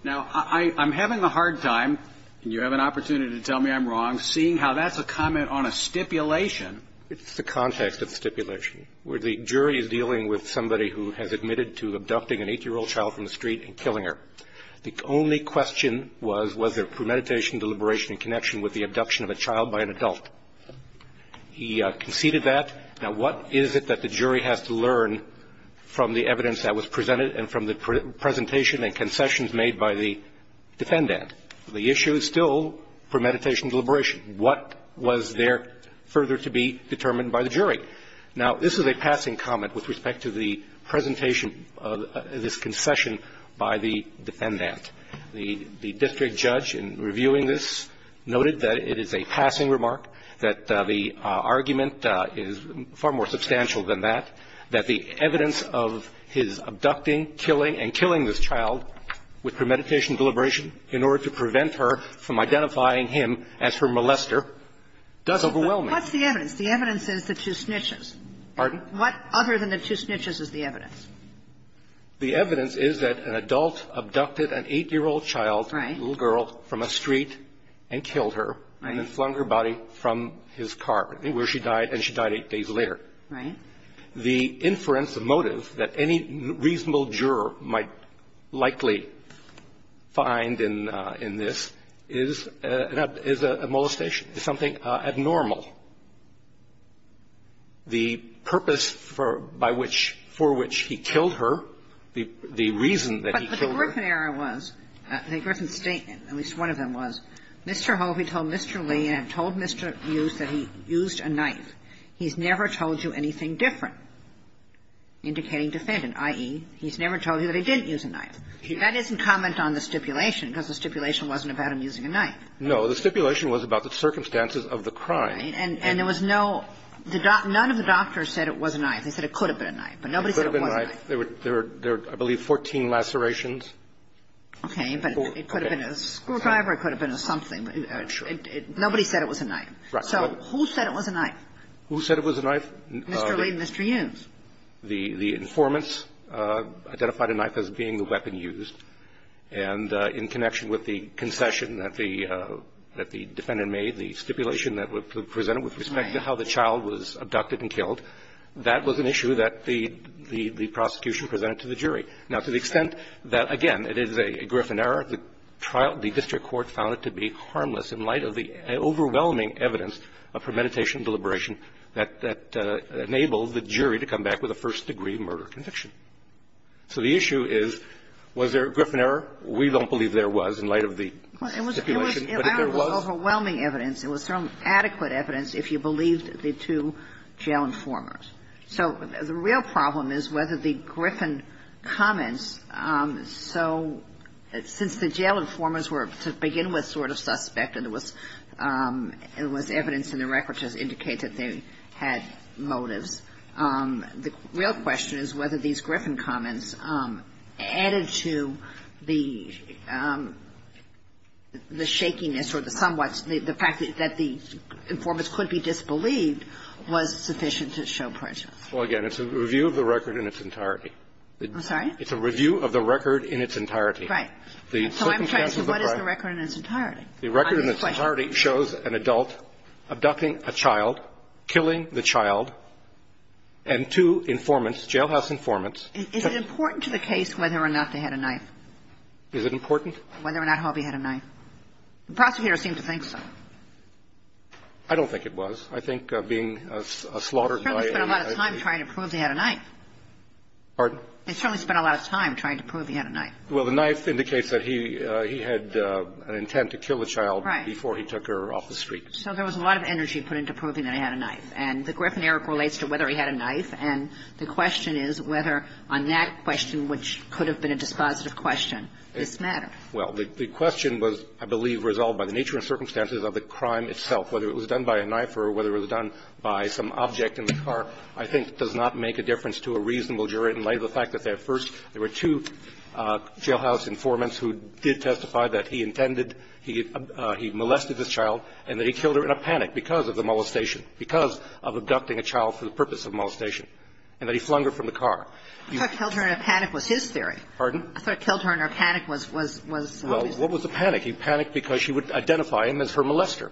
Now, I'm having a hard time, and you have an opportunity to tell me I'm wrong, seeing how that's a comment on a stipulation. It's the context of the stipulation, where the jury is dealing with somebody who has admitted to abducting an 8-year-old child from the street and killing her. The only question was, was there premeditation, deliberation, and connection with the abduction of a child by an adult? He conceded that. Now, what is it that the jury has to learn from the evidence that was presented and from the presentation and concessions made by the defendant? The issue is still premeditation and deliberation. What was there further to be determined by the jury? Now, this is a passing comment with respect to the presentation of this concession by the defendant. The district judge in reviewing this noted that it is a passing remark, that the argument is far more substantial than that, that the evidence of his abducting, killing, and killing this child with premeditation and deliberation in order to prevent her from identifying him as her molester does overwhelm it. What's the evidence? The evidence is that she snitches. Pardon? What other than that she snitches is the evidence? The evidence is that an adult abducted an 8-year-old child, little girl, from a street and killed her and then flung her body from his car where she died, and she died eight days later. Right. The inference, the motive, that any reasonable juror might likely find in this is a molestation. It's something abnormal. The purpose for which he killed her, the reason that he killed her... But the important error was, the important statement, at least one of them was, Mr. Hovey told Mr. Lee and told Mr. Hughes that he used a knife. He's never told you anything different, indicating defendant, i.e., he's never told you that he didn't use a knife. That isn't comment on the stipulation, because the stipulation wasn't about him using a knife. No, the stipulation was about the circumstances of the crime. And there was no, none of the doctors said it was a knife. They said it could have been a knife, but nobody said it was a knife. It could have been a knife. There were, I believe, 14 lacerations. Okay, but it could have been a screwdriver, it could have been something. Nobody said it was a knife. So who said it was a knife? Who said it was a knife? Mr. Lee and Mr. Hughes. The informants identified a knife as being the weapon used, and in connection with the concession that the defendant made, the stipulation that was presented with respect to how the child was abducted and killed, that was an issue that the prosecution presented to the jury. Now, to the extent that, again, it is a griffin error, the district court found it to be harmless in light of the overwhelming evidence for meditation and deliberation that enabled the jury to come back with a first-degree murder conviction. So the issue is, was there a griffin error? We don't believe there was in light of the stipulation. It was overwhelming evidence. There was some adequate evidence if you believed the two jail informers. So the real problem is whether the griffin comments, so since the jail informers were, to begin with, sort of suspected it was evidence in the record to indicate that they had motives, the real question is whether these griffin comments added to the shakiness or the fact that the informants could be disbelieved was sufficient to show prejudice. Well, again, it's a review of the record in its entirety. I'm sorry? It's a review of the record in its entirety. Right. So what is the record in its entirety? The record in its entirety shows an adult abducting a child, killing the child, and two informants, jailhouse informants. Is it important to the case whether or not they had a knife? Is it important? Whether or not Harvey had a knife. The prosecutor seems to think so. I don't think it was. I think being slaughtered by a- He certainly spent a lot of time trying to prove he had a knife. Pardon? He certainly spent a lot of time trying to prove he had a knife. Well, the knife indicates that he had an intent to kill the child before he took her off the street. Right. So there was a lot of energy put into proving that he had a knife. And the griffinary relates to whether he had a knife, and the question is whether on that question, which could have been a dispositive question, it's not. Well, the question was, I believe, resolved by the nature and circumstances of the crime itself. Whether it was done by a knife or whether it was done by some object in the car, I think does not make a difference to a reasonable jury in light of the fact that there were two jailhouse informants who did testify that he molested this child and that he killed her in a panic because of the molestation, because of abducting a child for the purpose of molestation, and that he flung her from the car. I thought killed her in a panic was his theory. Pardon? I thought killed her in a panic was his theory. Well, what was the panic? He panicked because she would identify him as her molester.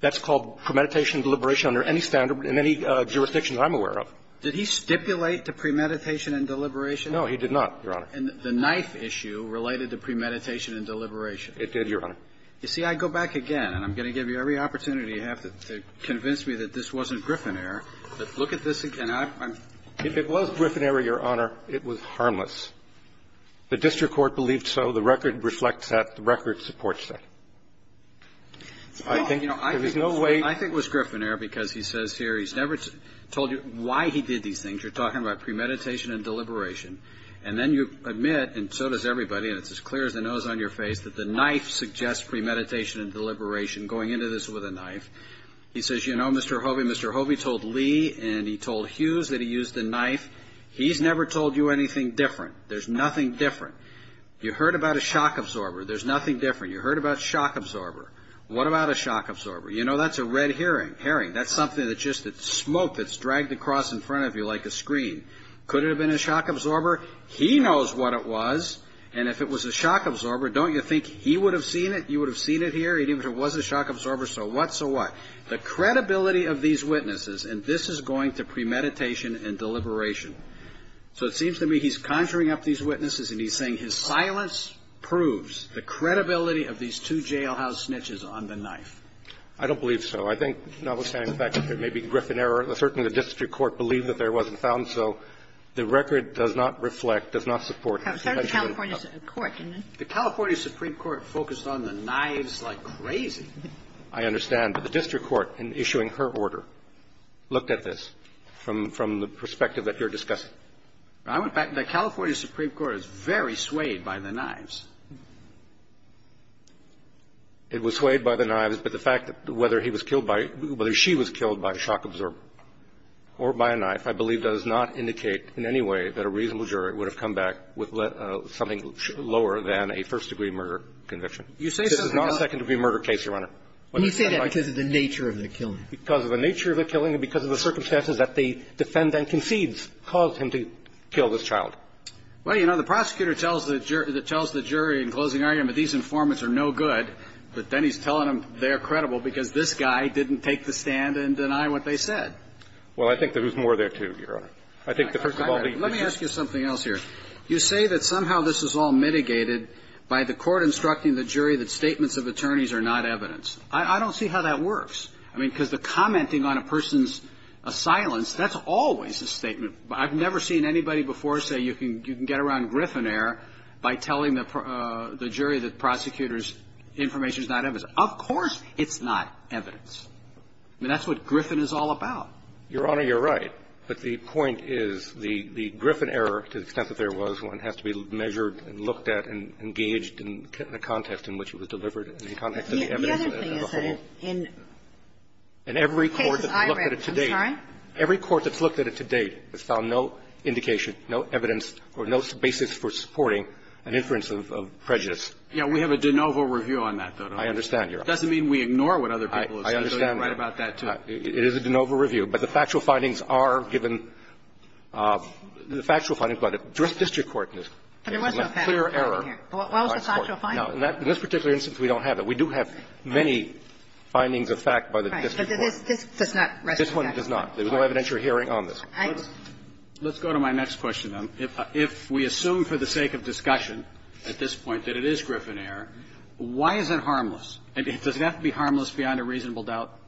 That's called premeditation and deliberation under any standard in any jurisdiction I'm aware of. Did he stipulate the premeditation and deliberation? No, he did not, Your Honor. And the knife issue related to premeditation and deliberation. It did, Your Honor. You see, I go back again, and I'm going to give you every opportunity you have to convince me that this wasn't griffinary, but look at this again. If it was griffinary, Your Honor, it was harmless. The district court believed so. The record reflects that. The record supports that. I think there was no way. I think it was griffinary because he says here he's never told you why he did these things. You're talking about premeditation and deliberation. And then you admit, and so does everybody, and it's as clear as a nose on your face, He says, you know, Mr. Hovey, Mr. Hovey told Lee and he told Hughes that he used a knife. He's never told you anything different. There's nothing different. You heard about a shock absorber. There's nothing different. You heard about a shock absorber. What about a shock absorber? You know, that's a red herring. That's something that's just smoke that's dragged across in front of you like a screen. Could it have been a shock absorber? He knows what it was, and if it was a shock absorber, don't you think he would have seen it? You would have seen it here? If it was a shock absorber, so what, so what? The credibility of these witnesses, and this is going to premeditation and deliberation. So it seems to me he's conjuring up these witnesses and he's saying his silence proves the credibility of these two jailhouse snitches on the knife. I don't believe so. I think, notwithstanding the fact that there may be griffinary, certainly the district court believed that there wasn't found, so the record does not reflect, does not support that. The California Supreme Court, didn't it? I understand, but the district court, in issuing her order, looked at this from the perspective that you're discussing. The California Supreme Court is very swayed by the knives. It was swayed by the knives, but the fact that whether he was killed by, whether she was killed by a shock absorber or by a knife, I believe does not indicate in any way that a reasonable jury would have come back with something lower than a first-degree murder conviction. This is not a second-degree murder case, Your Honor. You say that because of the nature of the killing. Because of the nature of the killing, because of the circumstances that the defendant concedes caused him to kill this child. Well, you know, the prosecutor tells the jury in closing argument that these informants are no good, but then he's telling them they're credible because this guy didn't take the stand and deny what they said. Well, I think there's more there, too, Your Honor. Let me ask you something else here. You say that somehow this is all mitigated by the court instructing the jury that statements of attorneys are not evidence. I don't see how that works. I mean, because the commenting on a person's silence, that's always a statement. I've never seen anybody before say you can get around Griffin error by telling the jury that the prosecutor's information is not evidence. Of course it's not evidence. I mean, that's what Griffin is all about. Your Honor, you're right. But the point is the Griffin error, to the extent that there was, one has to be measured and looked at and engaged in the context in which it was delivered and the context of the evidence as a whole. And every court that's looked at it to date has found no indication, no evidence, or no basis for supporting an inference of prejudice. Yeah, we have a de novo review on that, though. I understand, Your Honor. It doesn't mean we ignore what other people have said. I understand. You're right about that, too. It is a de novo review. But the factual findings are given. The factual findings by the district court is clear error. But there was no factual evidence here. Well, that was the factual findings. No, in this particular instance, we don't have it. We do have many findings of fact by the district court. Right, but this does not rest on that. This one does not. There's no evidentiary hearing on this. Let's go to my next question, then. If we assume for the sake of discussion at this point that it is Griffin error, why is it harmless? Does it have to be harmless beyond a reasonable doubt?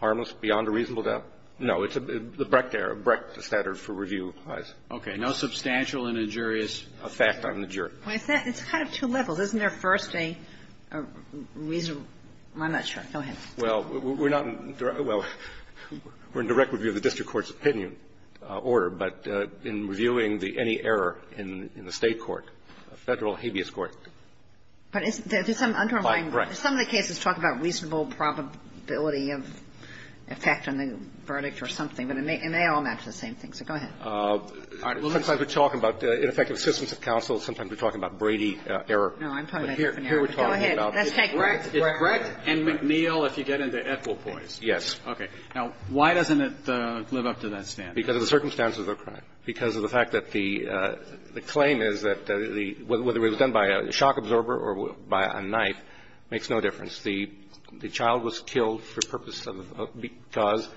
Harmless beyond a reasonable doubt? No, it's the Brecht error. Brecht is the standard for review. Okay, no substantial and injurious effect on the jury. It's kind of two levels. Isn't there first a reasonable? I'm not sure. Go ahead. Well, we're in direct review of the district court's opinion order, but in reviewing any error in the state court, federal habeas court. Some of the cases talk about reasonable probability of effect on the verdict or something, and they all match the same thing, so go ahead. Sometimes we're talking about ineffective assistance of counsel. Sometimes we're talking about Brady error. No, I'm talking about Griffin error. Go ahead. Brecht and McNeil, if you get into Ethel points. Yes. Okay. Now, why doesn't it live up to that standard? Because of the circumstances of the crime. Because of the fact that the claim is that whether it was done by a shock absorber or by a knife makes no difference. The child was killed because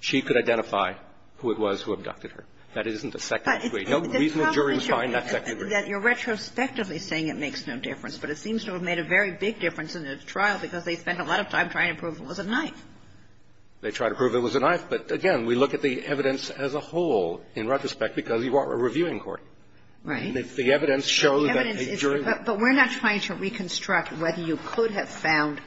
she could identify who it was who abducted her. That isn't effective. No reasonable jury would find that effective. You're retrospectively saying it makes no difference, but it seems to have made a very big difference in this trial because they spent a lot of time trying to prove it was a knife. They tried to prove it was a knife, but again, we look at the evidence as a whole in retrospect because you are a reviewing court. Right. The evidence shows that the jury... But we're not trying to reconstruct whether you could have found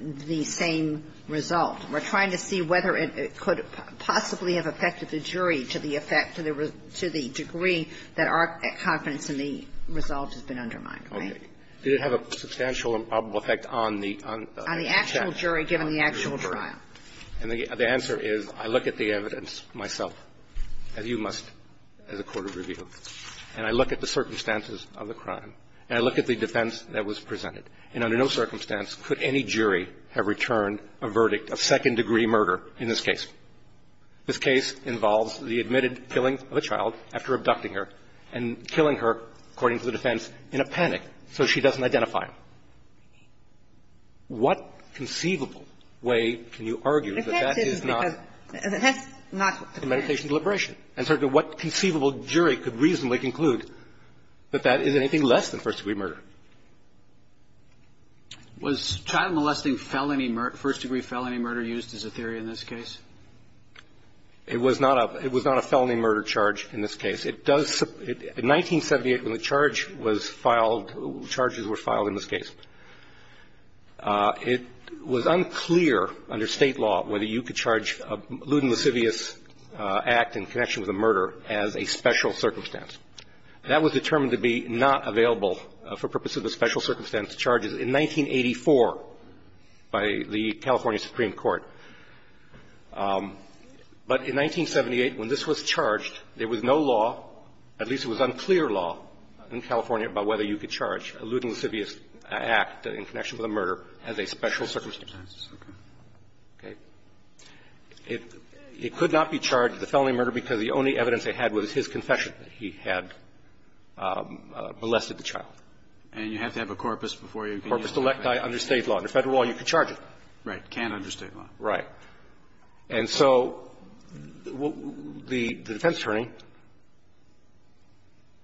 the same result. We're trying to see whether it could possibly have affected the jury to the effect, to the degree that our confidence in the results has been undermined. Okay. Did it have a substantial effect on the... On the actual jury given the actual trial. And the answer is I look at the evidence myself, as you must as a court of review, and I look at the circumstances of the crime, and I look at the defense that was presented, and under no circumstance could any jury have returned a verdict of second-degree murder in this case. This case involves the admitted killing of a child after abducting her and killing her, according to the defense, in a panic so she doesn't identify him. What conceivable way can you argue that that is not... If that's... That's not... Medication deliberation. And certainly what conceivable jury could reasonably conclude that that is anything less than first-degree murder? Was child molesting felony murder, first-degree felony murder used as a theory in this case? It was not a felony murder charge in this case. It does... In 1978, when the charge was filed... Charges were filed in this case, it was unclear under state law whether you could charge a lewd and lascivious act in connection with a murder as a special circumstance. That was determined to be not available for purpose of the special circumstance charges in 1984 by the California Supreme Court. But in 1978, when this was charged, there was no law, at least it was unclear law in California about whether you could charge a lewd and lascivious act in connection with a murder as a special circumstance. Okay. It could not be charged as a felony murder because the only evidence they had was his confession that he had molested the child. And you have to have a corpus before you... Corpus delicti under state law. Under federal law, you could charge it. Right, can't under state law. Right. And so the defense attorney,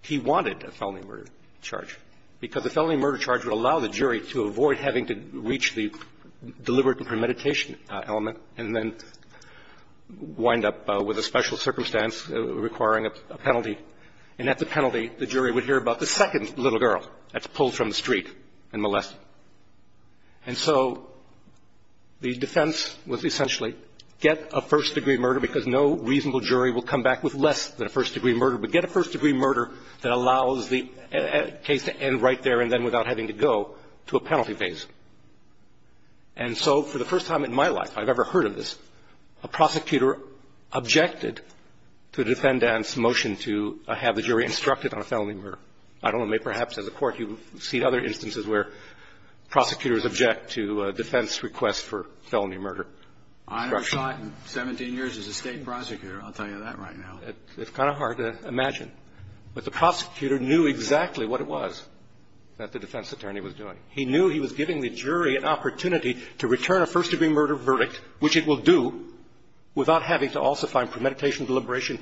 he wanted a felony murder charge because a felony murder charge would allow the jury to avoid having to reach the deliberate premeditation element and then wind up with a special circumstance requiring a penalty. And at the penalty, the jury would hear about the second little girl that's pulled from the street and molested. And so the defense was essentially get a first-degree murder because no reasonable jury will come back with less than a first-degree murder, but get a first-degree murder that allows the case to end right there and then without having to go to a penalty phase. And so for the first time in my life, I've never heard of this, a prosecutor objected to the defendant's motion to have the jury instructed on a felony murder. I don't know, maybe perhaps as a court you see other instances where prosecutors object to defense requests for felony murder. I've never shot in 17 years as a state prosecutor. I'll tell you that right now. It's kind of hard to imagine. But the prosecutor knew exactly what it was that the defense attorney was doing. He knew he was giving the jury an opportunity to return a first-degree murder verdict, which it will do, without having to also find premeditation, deliberation,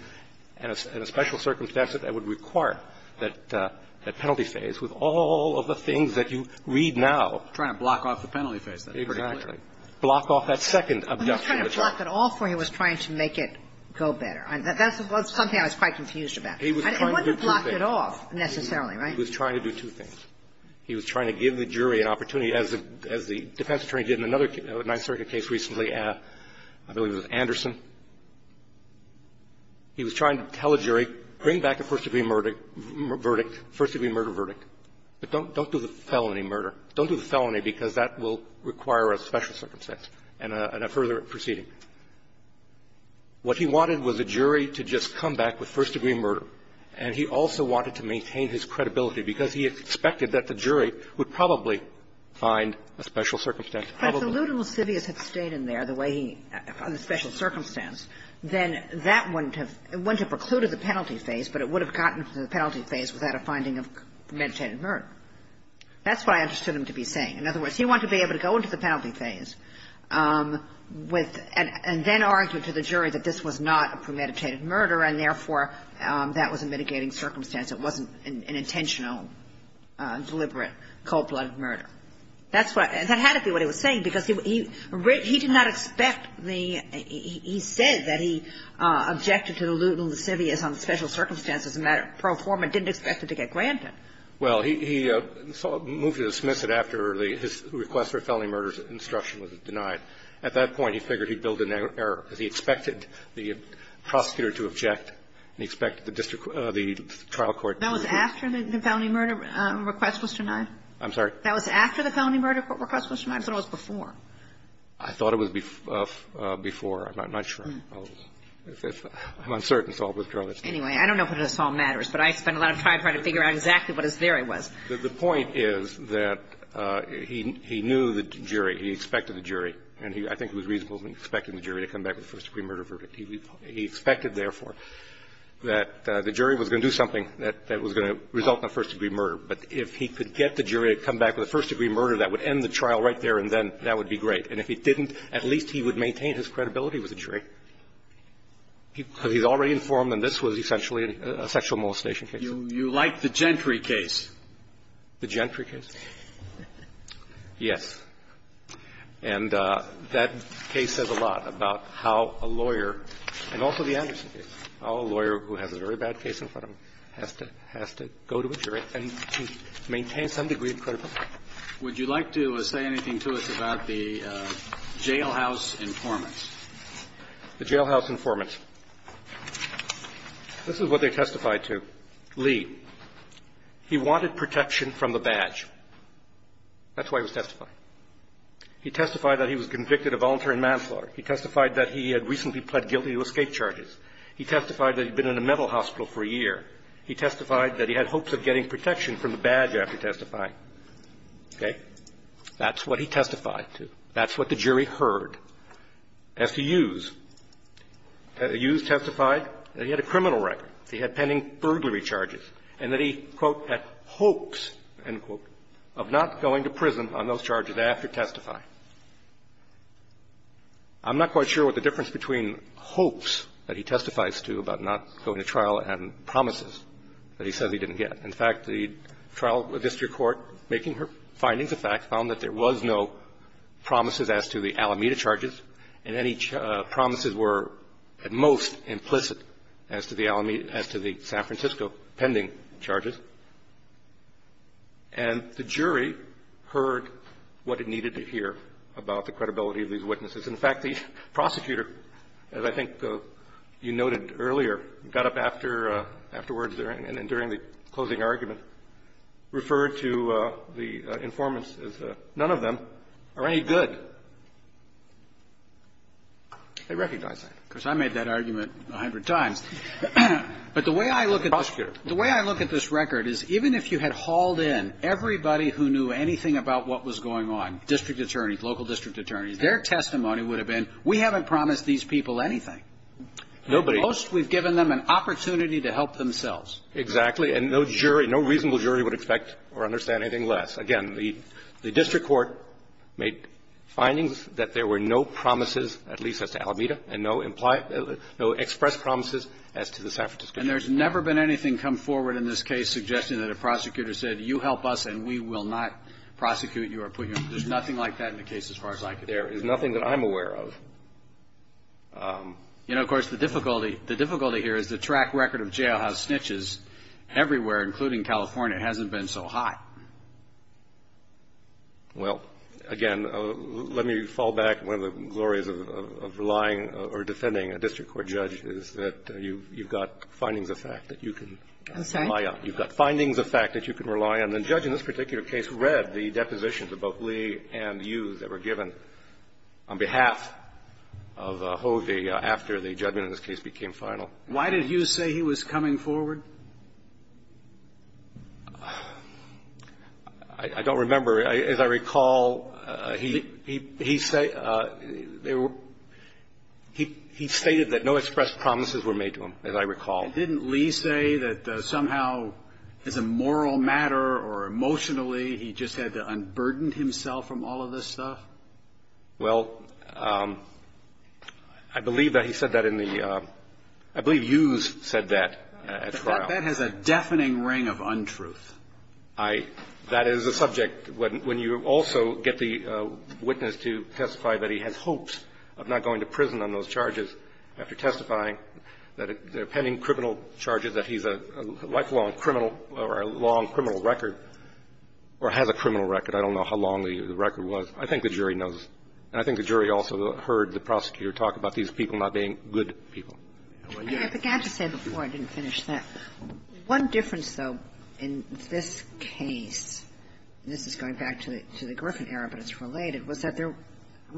and a special circumstance that would require that penalty phase with all of the things that you read now. Trying to block off the penalty phase. Exactly. Block off that second objection. He wasn't trying to block it off when he was trying to make it go better. That's something I was quite confused about. He wasn't trying to block it off necessarily, right? He was trying to do two things. He was trying to give the jury an opportunity, as the defense attorney did in another 9th Circuit case recently, I believe it was Anderson. He was trying to tell the jury, bring back a first-degree murder verdict. But don't do the felony murder. Don't do the felony because that will require a special circumstance and a further proceeding. What he wanted was the jury to just come back with first-degree murder. And he also wanted to maintain his credibility because he expected that the jury would probably find a special circumstance. But if the lewd and lascivious had stayed in there the way he found the special circumstance, then that wouldn't have precluded the penalty phase, but it would have gotten to the penalty phase without a finding of premeditated murder. That's what I understood him to be saying. In other words, he wanted to be able to go into the penalty phase and then argue to the jury that this was not a premeditated murder and, therefore, that was a mitigating circumstance. It wasn't an intentional, deliberate, cold-blooded murder. And that had to be what he was saying because he did not expect the – he said that he objected to the lewd and lascivious on the special circumstance as a matter of pro forma and didn't expect it to get granted. Well, he moved to dismiss it after his request for a felony murder instruction was denied. At that point, he figured he'd build an error because he expected the prosecutor to object and he expected the trial court to – That was after the felony murder request was denied? I'm sorry? That was after the felony murder request was denied or was it before? I thought it was before. I'm not sure. I'm uncertain. Anyway, I don't know whether this all matters, but I spent a lot of time trying to figure out exactly what his theory was. The point is that he knew the jury. He expected the jury, and I think it was reasonable to expect the jury to come back with a first-degree murder verdict. He expected, therefore, that the jury was going to do something that was going to result in a first-degree murder. But if he could get the jury to come back with a first-degree murder, that would end the trial right there and then that would be great. And if it didn't, at least he would maintain his credibility with the jury. So he was already informed that this was essentially a sexual molestation case? You like the Gentry case. The Gentry case? Yes. And that case says a lot about how a lawyer – and also the Anderson case – how a lawyer who has a very bad case in front of him has to go to a jury and maintain some degree of credibility. Would you like to say anything to us about the jailhouse informants? The jailhouse informants. This is what they testified to. Lee. He wanted protection from the badge. That's why he was testified. He testified that he was convicted of voluntary manslaughter. He testified that he had recently pled guilty to escape charges. He testified that he had been in a mental hospital for a year. He testified that he had hopes of getting protection from the badge after testifying. Okay? That's what he testified to. That's what the jury heard. S.E. Hughes. Hughes testified that he had a criminal record. He had pending burglary charges. And that he, quote, had hopes, end quote, of not going to prison on those charges after testifying. I'm not quite sure what the difference between hopes that he testifies to about not going to trial and promises that he says he didn't get. In fact, the trial district court, finding the facts, found that there was no promises as to the Alameda charges. And any promises were, at most, implicit as to the San Francisco pending charges. And the jury heard what it needed to hear about the credibility of these witnesses. In fact, the prosecutor, as I think you noted earlier, got up afterwards and during the closing argument, referred to the informants as none of them are any good. They recognized that. Because I made that argument a hundred times. But the way I look at this record is, even if you had hauled in everybody who knew anything about what was going on, district attorneys, local district attorneys, their testimony would have been, we haven't promised these people anything. Most, we've given them an opportunity to help themselves. Exactly. And no reasonable jury would expect or understand anything less. Again, the district court made findings that there were no promises, at least as to Alameda, and no express promises as to the San Francisco pending charges. And there's never been anything come forward in this case suggesting that a prosecutor said, you help us and we will not prosecute you. There's nothing like that in the case as far as I can tell. There is nothing that I'm aware of. You know, of course, the difficulty here is the track record of jailhouse snitches everywhere, including California, hasn't been so high. Well, again, let me fall back. One of the glories of defending a district court judge is that you've got findings of fact that you can rely on. And the judge in this particular case read the depositions of both Lee and you that were given on behalf of Hovey after the judgment in this case became final. Why did you say he was coming forward? I don't remember. As I recall, he stated that no express promises were made to him, as I recall. Didn't Lee say that somehow as a moral matter or emotionally he just had to unburden himself from all of this stuff? Well, I believe that he said that in the – I believe Hughes said that as well. That has a deafening ring of untruth. That is a subject when you also get the witness to testify that he had hopes of not going to prison on those charges after testifying that pending criminal charges that he's a lifelong criminal or a long criminal record or has a criminal record. I don't know how long the record was. I think the jury knows. I think the jury also heard the prosecutor talk about these people not being good people. I forgot to say before I didn't finish this. One difference, though, in this case – and this is going back to the Griffin era, but it's related – was that there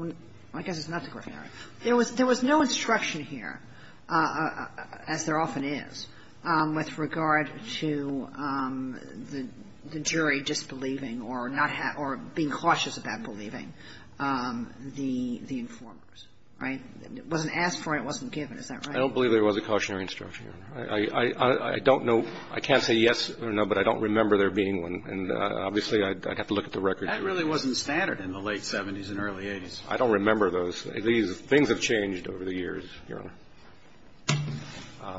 – I guess it's not the Griffin era. There was no instruction here, as there often is, with regard to the jury just believing or not – or being cautious about believing the informers, right? It wasn't asked for. It wasn't given. Is that right? I don't believe there was a cautionary instruction. I don't know – I can't say yes or no, but I don't remember there being one. And obviously I'd have to look at the records. That really wasn't standard in the late 70s and early 80s. I don't remember those. Things have changed over the years, Your Honor.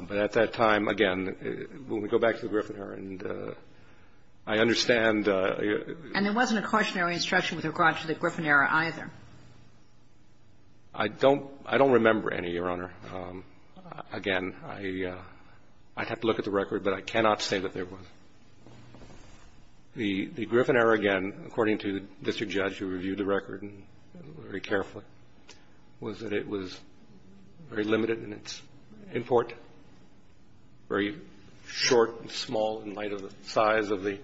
But at that time, again, when we go back to the Griffin era, I understand – And there wasn't a cautionary instruction with regard to the Griffin era either. I don't remember any, Your Honor. Again, I'd have to look at the record, but I cannot say that there was. The Griffin era, again, according to the district judge who reviewed the record very carefully, was that it was very limited in its import, very short and small in light of the size of the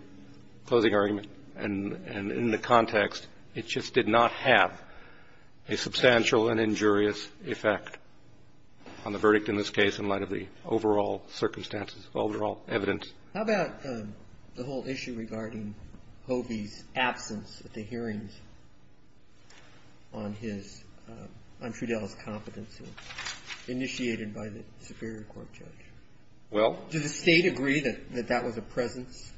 closing argument. And in the context, it just did not have a substantial and injurious effect on the verdict in this case in light of the overall circumstances of overall evidence. How about the whole issue regarding Hovey's absence at the hearings on Trudell's competency initiated by the Superior Court judge? Well – Does the state agree that that was a presence?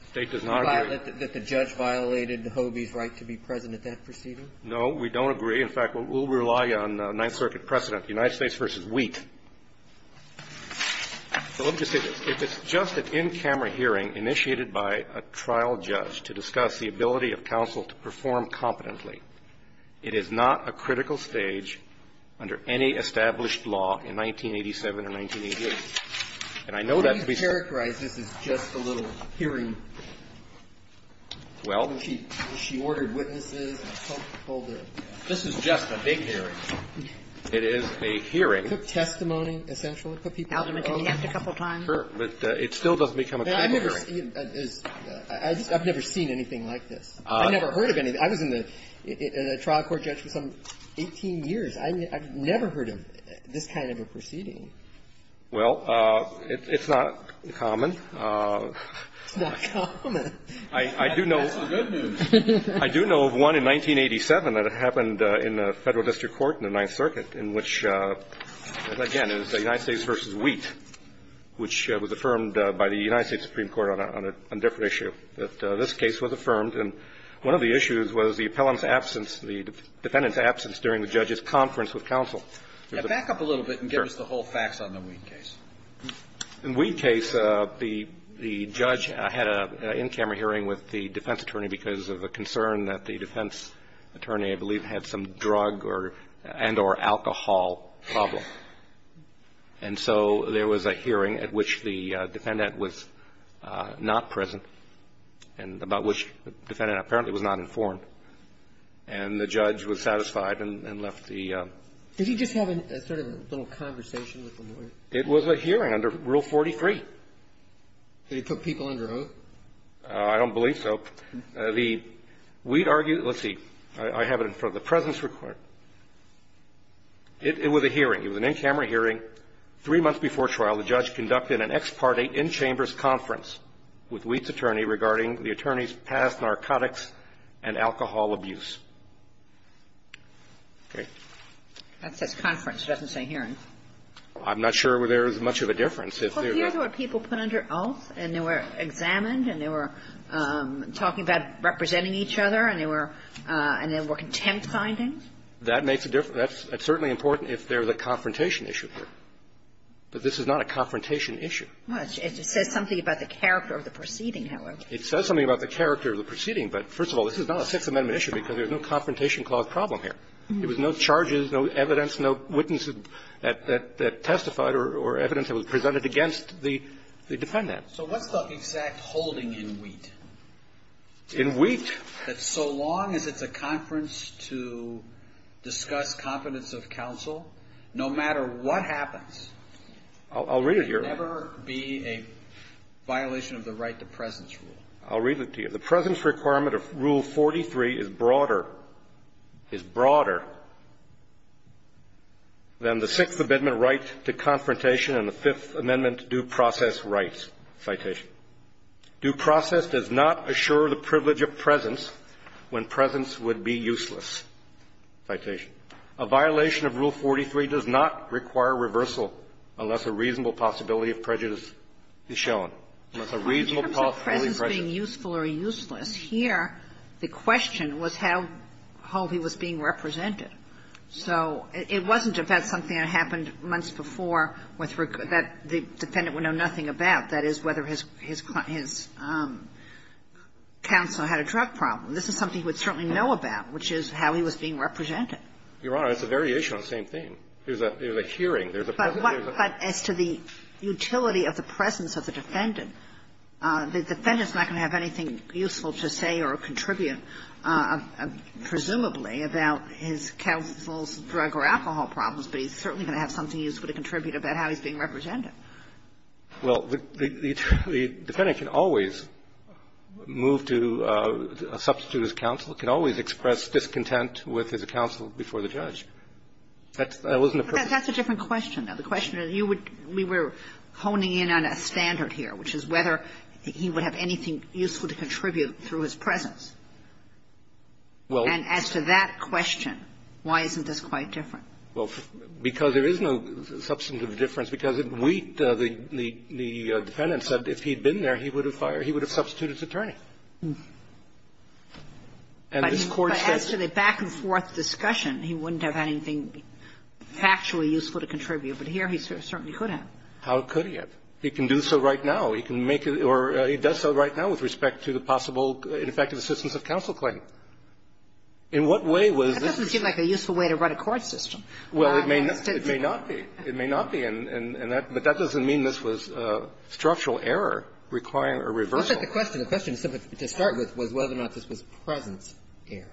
The state does not agree. Does the judge violate Hovey's right to be present at that proceeding? No, we don't agree. In fact, we'll rely on Ninth Circuit precedent, the United States versus Wheat. So let me just get this. If it's just an in-camera hearing initiated by a trial judge to discuss the ability of counsel to perform competently, it is not a critical stage under any established law in 1987 and 1988. And I know that – Can you characterize this as just a little hearing? Well – She ordered witnesses and pulled in. This is just a big hearing. It is a hearing. It took testimony, essentially. It took people's testimony. It still doesn't become a statutory. I've never seen anything like this. I've never heard of anything. I was in the trial court justice for 18 years. I've never heard of this kind of a proceeding. Well, it's not common. It's not common. I do know – That's good news. I do know of one in 1987 that happened in the federal district court in the Ninth Circuit in which, again, it was the United States versus Wheat, which was affirmed by the United States Supreme Court on a different issue. This case was affirmed, and one of the issues was the defendant's absence during the judge's conference with counsel. Back up a little bit and give us the whole facts on the Wheat case. In the Wheat case, the judge had an in-camera hearing with the defense attorney because of a concern that the defense attorney, I believe, had some drug and or alcohol problems. And so there was a hearing at which the defendant was not present and about which the defendant apparently was not informed. And the judge was satisfied and left the – Did he just have sort of a little conversation with the lawyer? It was a hearing under Rule 43. Did he put people under oath? I don't believe so. The Wheat argued – let's see. I have it in front of the presence report. It was a hearing. It was an in-camera hearing. Three months before trial, the judge conducted an ex parte in-chambers conference with Wheat's attorney regarding the attorney's past narcotics and alcohol abuse. Okay. That's a conference. It doesn't say hearing. I'm not sure there's much of a difference. Well, do you ever have people put under oath and they were examined and they were talking about representing each other and they were contempt findings? That makes a difference. That's certainly important if there's a confrontation issue here. But this is not a confrontation issue. Well, it says something about the character of the proceeding, however. It says something about the character of the proceeding, but first of all, this is not a Sixth Amendment issue because there's no confrontation-clogged problem here. There was no charges, no evidence, no witnesses that testified or evidence that was presented against the defendant. So what's the exact holding in Wheat? In Wheat? So long as it's a conference to discuss competence of counsel, no matter what happens, I'll read it to you. there will never be a violation of the right to presence rule. I'll read it to you. The presence requirement of Rule 43 is broader than the Sixth Amendment rights to confrontation and the Fifth Amendment due process rights. Citation. Due process does not assure the privilege of presence when presence would be useless. Citation. A violation of Rule 43 does not require reversal unless a reasonable possibility of prejudice is shown. If the presence is being useful or useless, here the question was how he was being represented. So it wasn't something that happened months before that the defendant would know nothing about. That is, whether his counsel had a drug problem. This is something he would certainly know about, which is how he was being represented. Your Honor, it's a variation on the same thing. There's a hearing. But to the utility of the presence of the defendant, the defendant's not going to have anything useful to say or contribute, presumably, about his counsel's drug or alcohol problems, but he's certainly going to have something useful to contribute about how he's being represented. Well, the defendant can always move to substitute his counsel, can always express discontent with his counsel before the judge. That's a different question, though. The question is, we were honing in on a standard here, which is whether he would have anything useful to contribute through his presence. And as to that question, why isn't this quite different? Well, because there is no substance of the difference, because the defendant said if he'd been there, he would have substituted his attorney. As to the back-and-forth discussion, he wouldn't have anything actually useful to contribute, but here he certainly could have. How could he have? He can do so right now. He can make it, or he does so right now with respect to the possible effective assistance of counsel claim. In what way would this? That doesn't seem like a useful way to run a court system. Well, it may not be. It may not be, but that doesn't mean this was structural error requiring a reversal. The question to start with was whether or not this was presence error,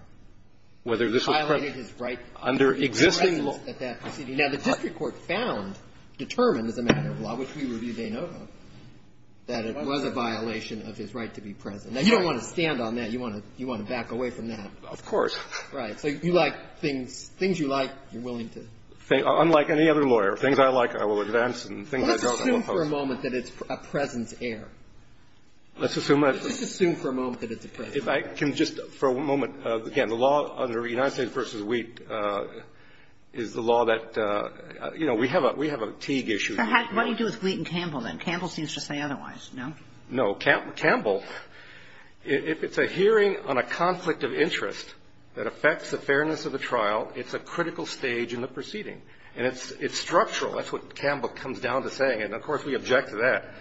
whether this was under existing law. Now, the country court found, determined as a matter of law, which we review day and night, that it was a violation of his right to be present. Now, you don't want to stand on that. You want to back away from that. Of course. Right. Things you like, you're willing to. Unlike any other lawyer, things I like, I will advance, and things I don't, I will oppose. Let's assume for a moment that it's a presence error. Let's assume that. Let's assume for a moment that it's a presence error. Just for a moment, again, the law under United v. Wheat is the law that, you know, we have a Teague issue. What do you do with Wheat and Campbell, then? Campbell seems to say otherwise, no? No. Campbell, if it's a hearing on a conflict of interest that affects the fairness of the trial, it's a critical stage in the proceeding, and it's structural. That's what Campbell comes down to saying, and, of course, we object to that.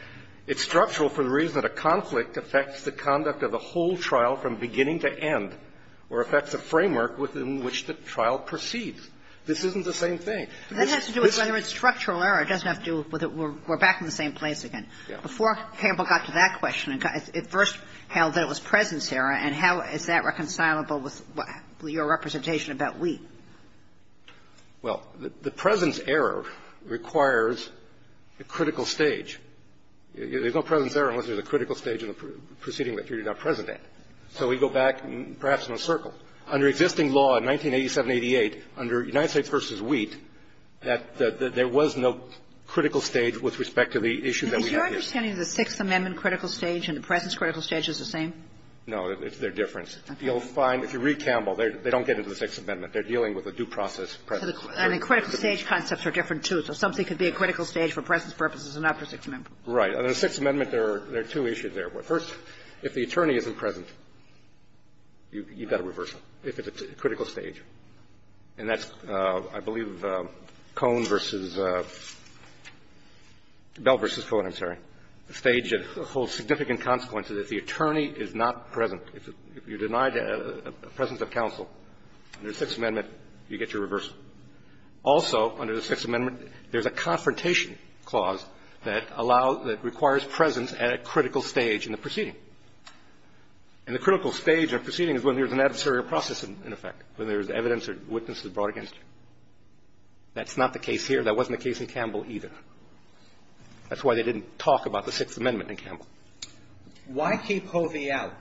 It's structural for the reason that a conflict affects the conduct of the whole trial from beginning to end, or affects the framework within which the trial proceeds. This isn't the same thing. That has to do with whether it's structural error. It doesn't have to do with we're back in the same place again. Before Campbell got to that question, it first held there was presence error, and how is that reconcilable with your representation about Wheat? Well, the presence error requires the critical stage. There's no presence error unless there's a critical stage in the proceeding that you're not presenting. So we go back, perhaps, in a circle. Under existing law in 1987-88, under United v. Wheat, there was no critical stage with respect to the issue that we had here. Is your understanding of the Sixth Amendment critical stage and the presence critical stage the same? No, they're different. If you read Campbell, they don't get into the Sixth Amendment. They're dealing with a due process presence. I mean, critical stage concepts are different, too, so something could be a critical stage for presence purposes and not for Sixth Amendment purposes. Right. Under the Sixth Amendment, there are two issues there. First, if the attorney isn't present, you've got a reversal if it's a critical stage. And that's, I believe, Cone v. Bell v. Fuller, I'm sorry, a stage that holds significant consequences if the attorney is not present. If you're denied the presence of counsel under the Sixth Amendment, you get your reversal. Also, under the Sixth Amendment, there's a confrontation clause that requires presence at a critical stage in the proceeding. And the critical stage of a proceeding is when there's an adversarial process in effect, when there's evidence or witnesses brought against you. That's not the case here. That wasn't the case in Campbell, either. That's why they didn't talk about the Sixth Amendment in Campbell. Why keep Hovey out?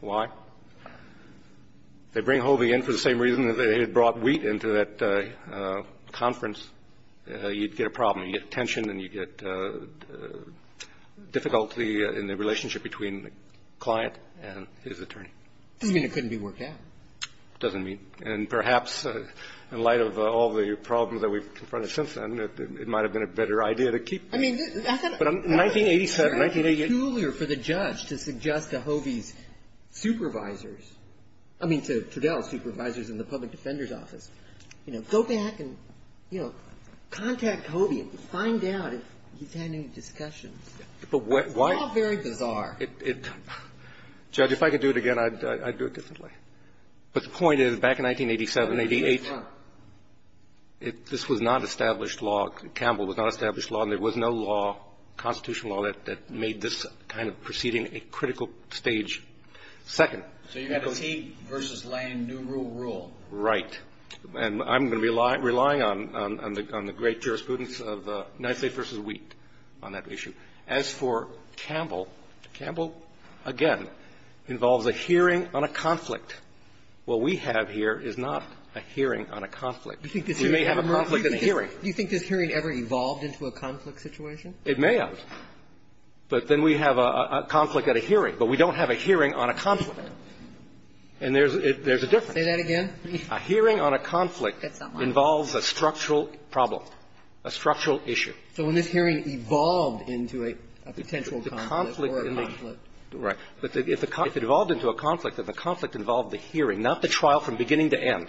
Why? They bring Hovey in for the same reason that they brought Wheat into that conference. You'd get a problem. You'd get tension and you'd get difficulty in the relationship between the client and his attorney. You mean it couldn't be worked out? It doesn't mean. And perhaps, in light of all the problems that we've confronted since then, it might have been a better idea to keep him. 1987, 1988. It's cooler for the judge to suggest to Hovey's supervisors, I mean to Fidel's supervisors in the public defender's office, go back and contact Hovey. Find out if you've had any discussions. Why? It's all very bizarre. Judge, if I could do it again, I'd do it differently. But the point is, back in 1987, 88, this was not established law. Campbell was not established law, and there was no law, constitutional law, that made this kind of proceeding a critical stage. Second. So you have Heath versus Lane, new rule, rule. Right. And I'm going to be relying on the great jurisprudence of Knightley versus Wheat on that issue. As for Campbell, Campbell, again, involves a hearing on a conflict. What we have here is not a hearing on a conflict. We may have a conflict at a hearing. Do you think this hearing ever evolved into a conflict situation? It may have. But then we have a conflict at a hearing. But we don't have a hearing on a conflict. And there's a difference. Say that again. A hearing on a conflict involves a structural problem, a structural issue. So when this hearing evolved into a potential conflict. Right. But if it evolved into a conflict, then the conflict involved the hearing, not the trial from beginning to end.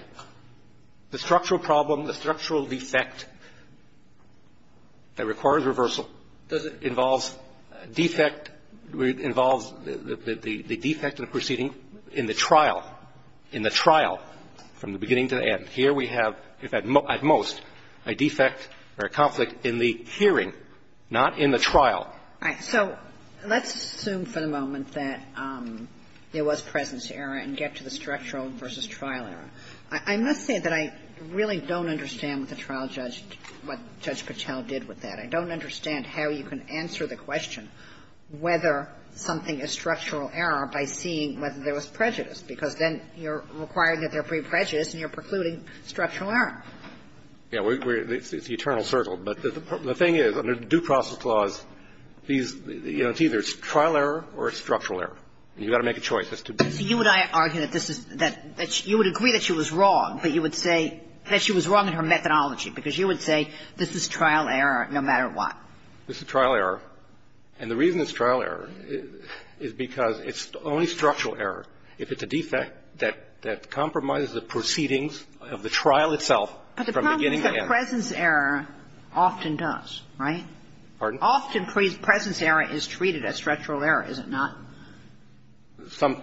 The structural problem, the structural defect, that requires reversal, involves the defect of the proceeding in the trial, in the trial, from the beginning to the end. And here we have, at most, a defect or a conflict in the hearing, not in the trial. All right. So let's assume for the moment that there was presence error and get to the structural versus trial error. I must say that I really don't understand with the trial judge what Judge Patel did with that. I don't understand how you can answer the question whether something is structural error by seeing whether there was prejudice. Because then you're requiring that there be prejudice and you're precluding structural error. Yeah, it's the eternal circle. But the thing is, under the Due Process Clause, it's either trial error or structural error. You've got to make a choice. You and I argue that you would agree that she was wrong, but you would say that she was wrong in her methodology because you would say this is trial error no matter what. This is trial error. And the reason it's trial error is because it's only structural error if it's a defect that compromises the proceedings of the trial itself from the beginning to the end. But the problem is that presence error often does, right? Pardon? Often presence error is treated as structural error, is it not?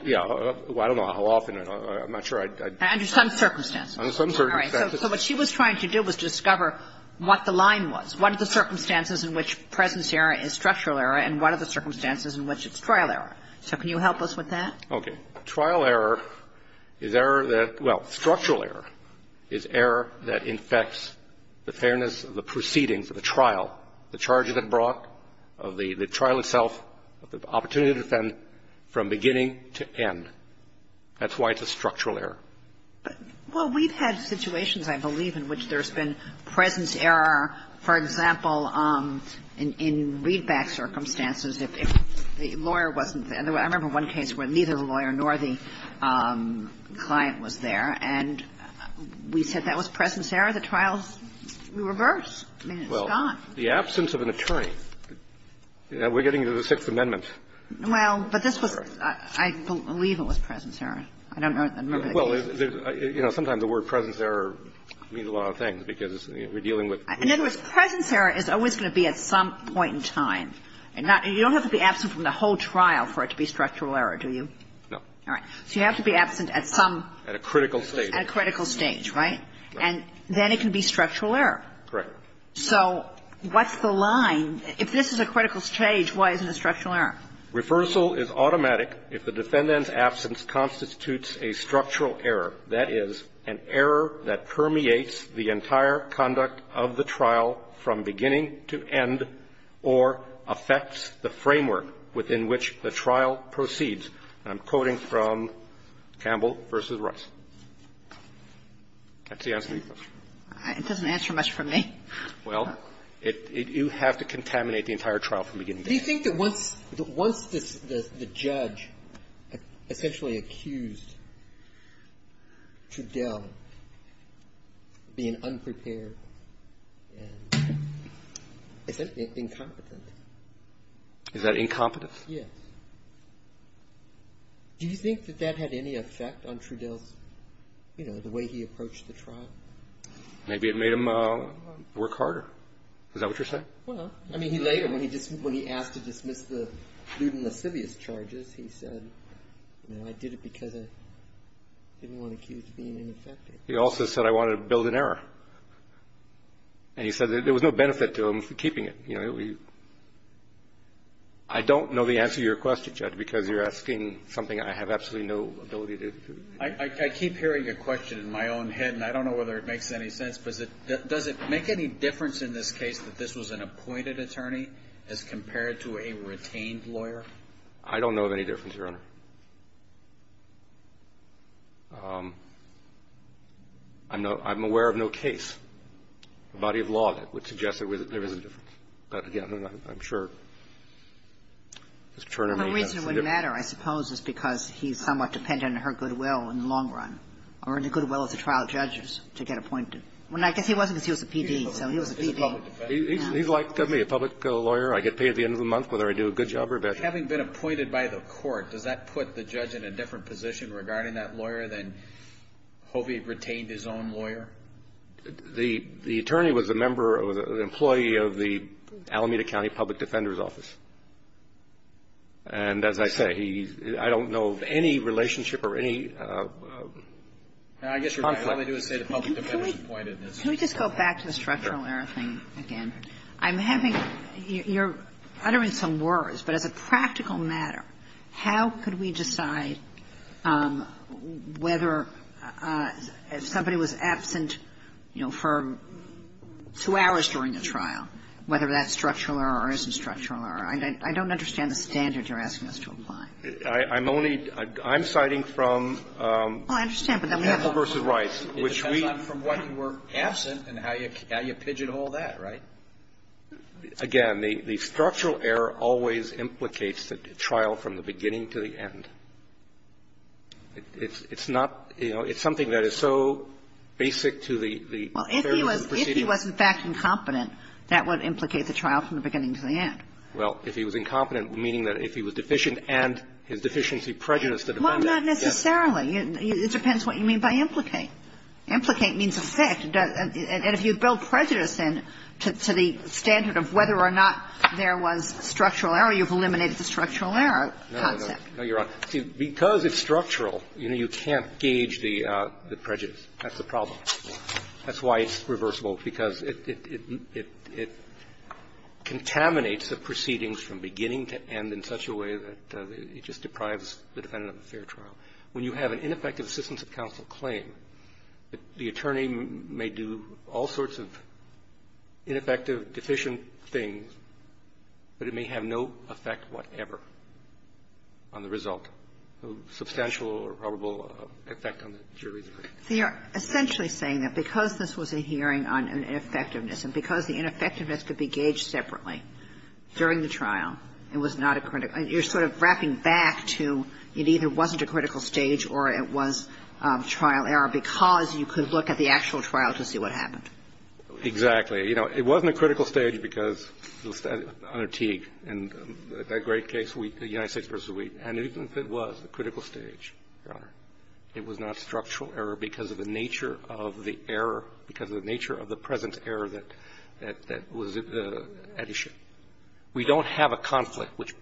Yeah. I don't know how often. I'm not sure. Under some circumstances. Under some circumstances. All right. So what she was trying to do was discover what the line was, one of the circumstances in which presence error is structural error and one of the circumstances in which it's trial error. So can you help us with that? Okay. Trial error is error that, well, structural error is error that infects the fairness of the proceedings of the trial, the charges it brought, the trial itself, the opportunity to defend from beginning to end. That's why it's a structural error. Well, we've had situations, I believe, in which there's been presence error, for example, in read-back circumstances if the lawyer wasn't there. I remember one case where neither the lawyer nor the client was there. And we said that was presence error. The trial's reversed. I mean, it's gone. Well, the absence of an attorney. We're getting to the Sixth Amendment. Well, but this was, I believe it was presence error. Well, you know, sometimes the word presence error means a lot of things because we're dealing with- In other words, presence error is always going to be at some point in time. And you don't have to be absent from the whole trial for it to be structural error, do you? No. All right. So you have to be absent at some- At a critical stage. At a critical stage, right? And then it can be structural error. Correct. So what's the line? If this is a critical stage, why isn't it structural error? Reversal is automatic if the defendant's absence constitutes a structural error. That is, an error that permeates the entire conduct of the trial from beginning to end or affects the framework within which the trial proceeds. And I'm quoting from Campbell versus Russell. That's the answer to your question. It doesn't answer much for me. Well, you have to contaminate the entire trial from beginning to end. Do you think that once the judge essentially accused Trudell of being unprepared and incompetent- Is that incompetence? Yes. Do you think that that had any effect on Trudell's-you know, the way he approached the trial? Maybe it made him work harder. Is that what you're saying? Well, I mean, he later, when he asked to dismiss the student of Sivius charges, he said, you know, I did it because I didn't want to keep it from being ineffective. He also said, I wanted to build an error. And he said there was no benefit to him keeping it. I don't know the answer to your question, Judge, because you're asking something I have absolutely no ability to- I keep hearing your question in my own head, and I don't know whether it makes any sense, but does it make any difference in this case that this was an appointed attorney as compared to a retained lawyer? I don't know of any difference, Your Honor. I'm aware of no case, body of law, that would suggest there was a difference. But, again, I'm sure Ms. Turner may have- The reason it wouldn't matter, I suppose, is because he's somewhat dependent on her goodwill in the long run, or in the goodwill of the trial judges to get appointed. I guess he wasn't until he was the PD, so he was the PD. He's likely to be a public lawyer. I get paid at the end of the month whether I do a good job or a bad job. Having been appointed by the court, does that put the judge in a different position regarding that lawyer than hope he retained his own lawyer? The attorney was the employee of the Alameda County Public Defender's Office. And, as I said, I don't know of any relationship or any- I guess what I only do is pay the public defender's appointedness. Can we just go back to the structural error thing again? You're uttering some words, but as a practical matter, how could we decide whether somebody was absent for two hours during the trial, whether that's structural error or isn't structural error? I don't understand the standards you're asking us to apply. I'm only- I'm citing from- Well, I understand, but then we have- Again, the structural error always implicates the trial from the beginning to the end. It's not- It's something that is so basic to the- Well, if he was, in fact, incompetent, that would implicate the trial from the beginning to the end. Well, if he was incompetent, meaning that if he was deficient and his deficiency prejudiced- Well, not necessarily. It depends what you mean by implicate. Implicate means effect. And if you build prejudice, then, to the standard of whether or not there was structural error, you've eliminated the structural error concept. No, you're right. Because it's structural, you can't gauge the prejudice. That's the problem. That's why it's reversible, because it contaminates the proceedings from beginning to end in such a way that it just deprives the defendant of a fair trial. When you have an ineffective assistance of counsel claim, the attorney may do all sorts of ineffective, deficient things, but it may have no effect whatever on the result. Substantial or probable effect on the jury. So you're essentially saying that because this was a hearing on ineffectiveness and because the ineffectiveness could be gauged separately during the trial and was not a critical- You're sort of wrapping back to it either wasn't a critical stage or it was trial error because you could look at the actual trial to see what happened. Exactly. You know, it wasn't a critical stage because, under Teague, in that great case, the United States v. Wheaton, it was a critical stage, Your Honor. It was not structural error because of the nature of the error, because of the nature of the present error that was at issue. We don't have a conflict which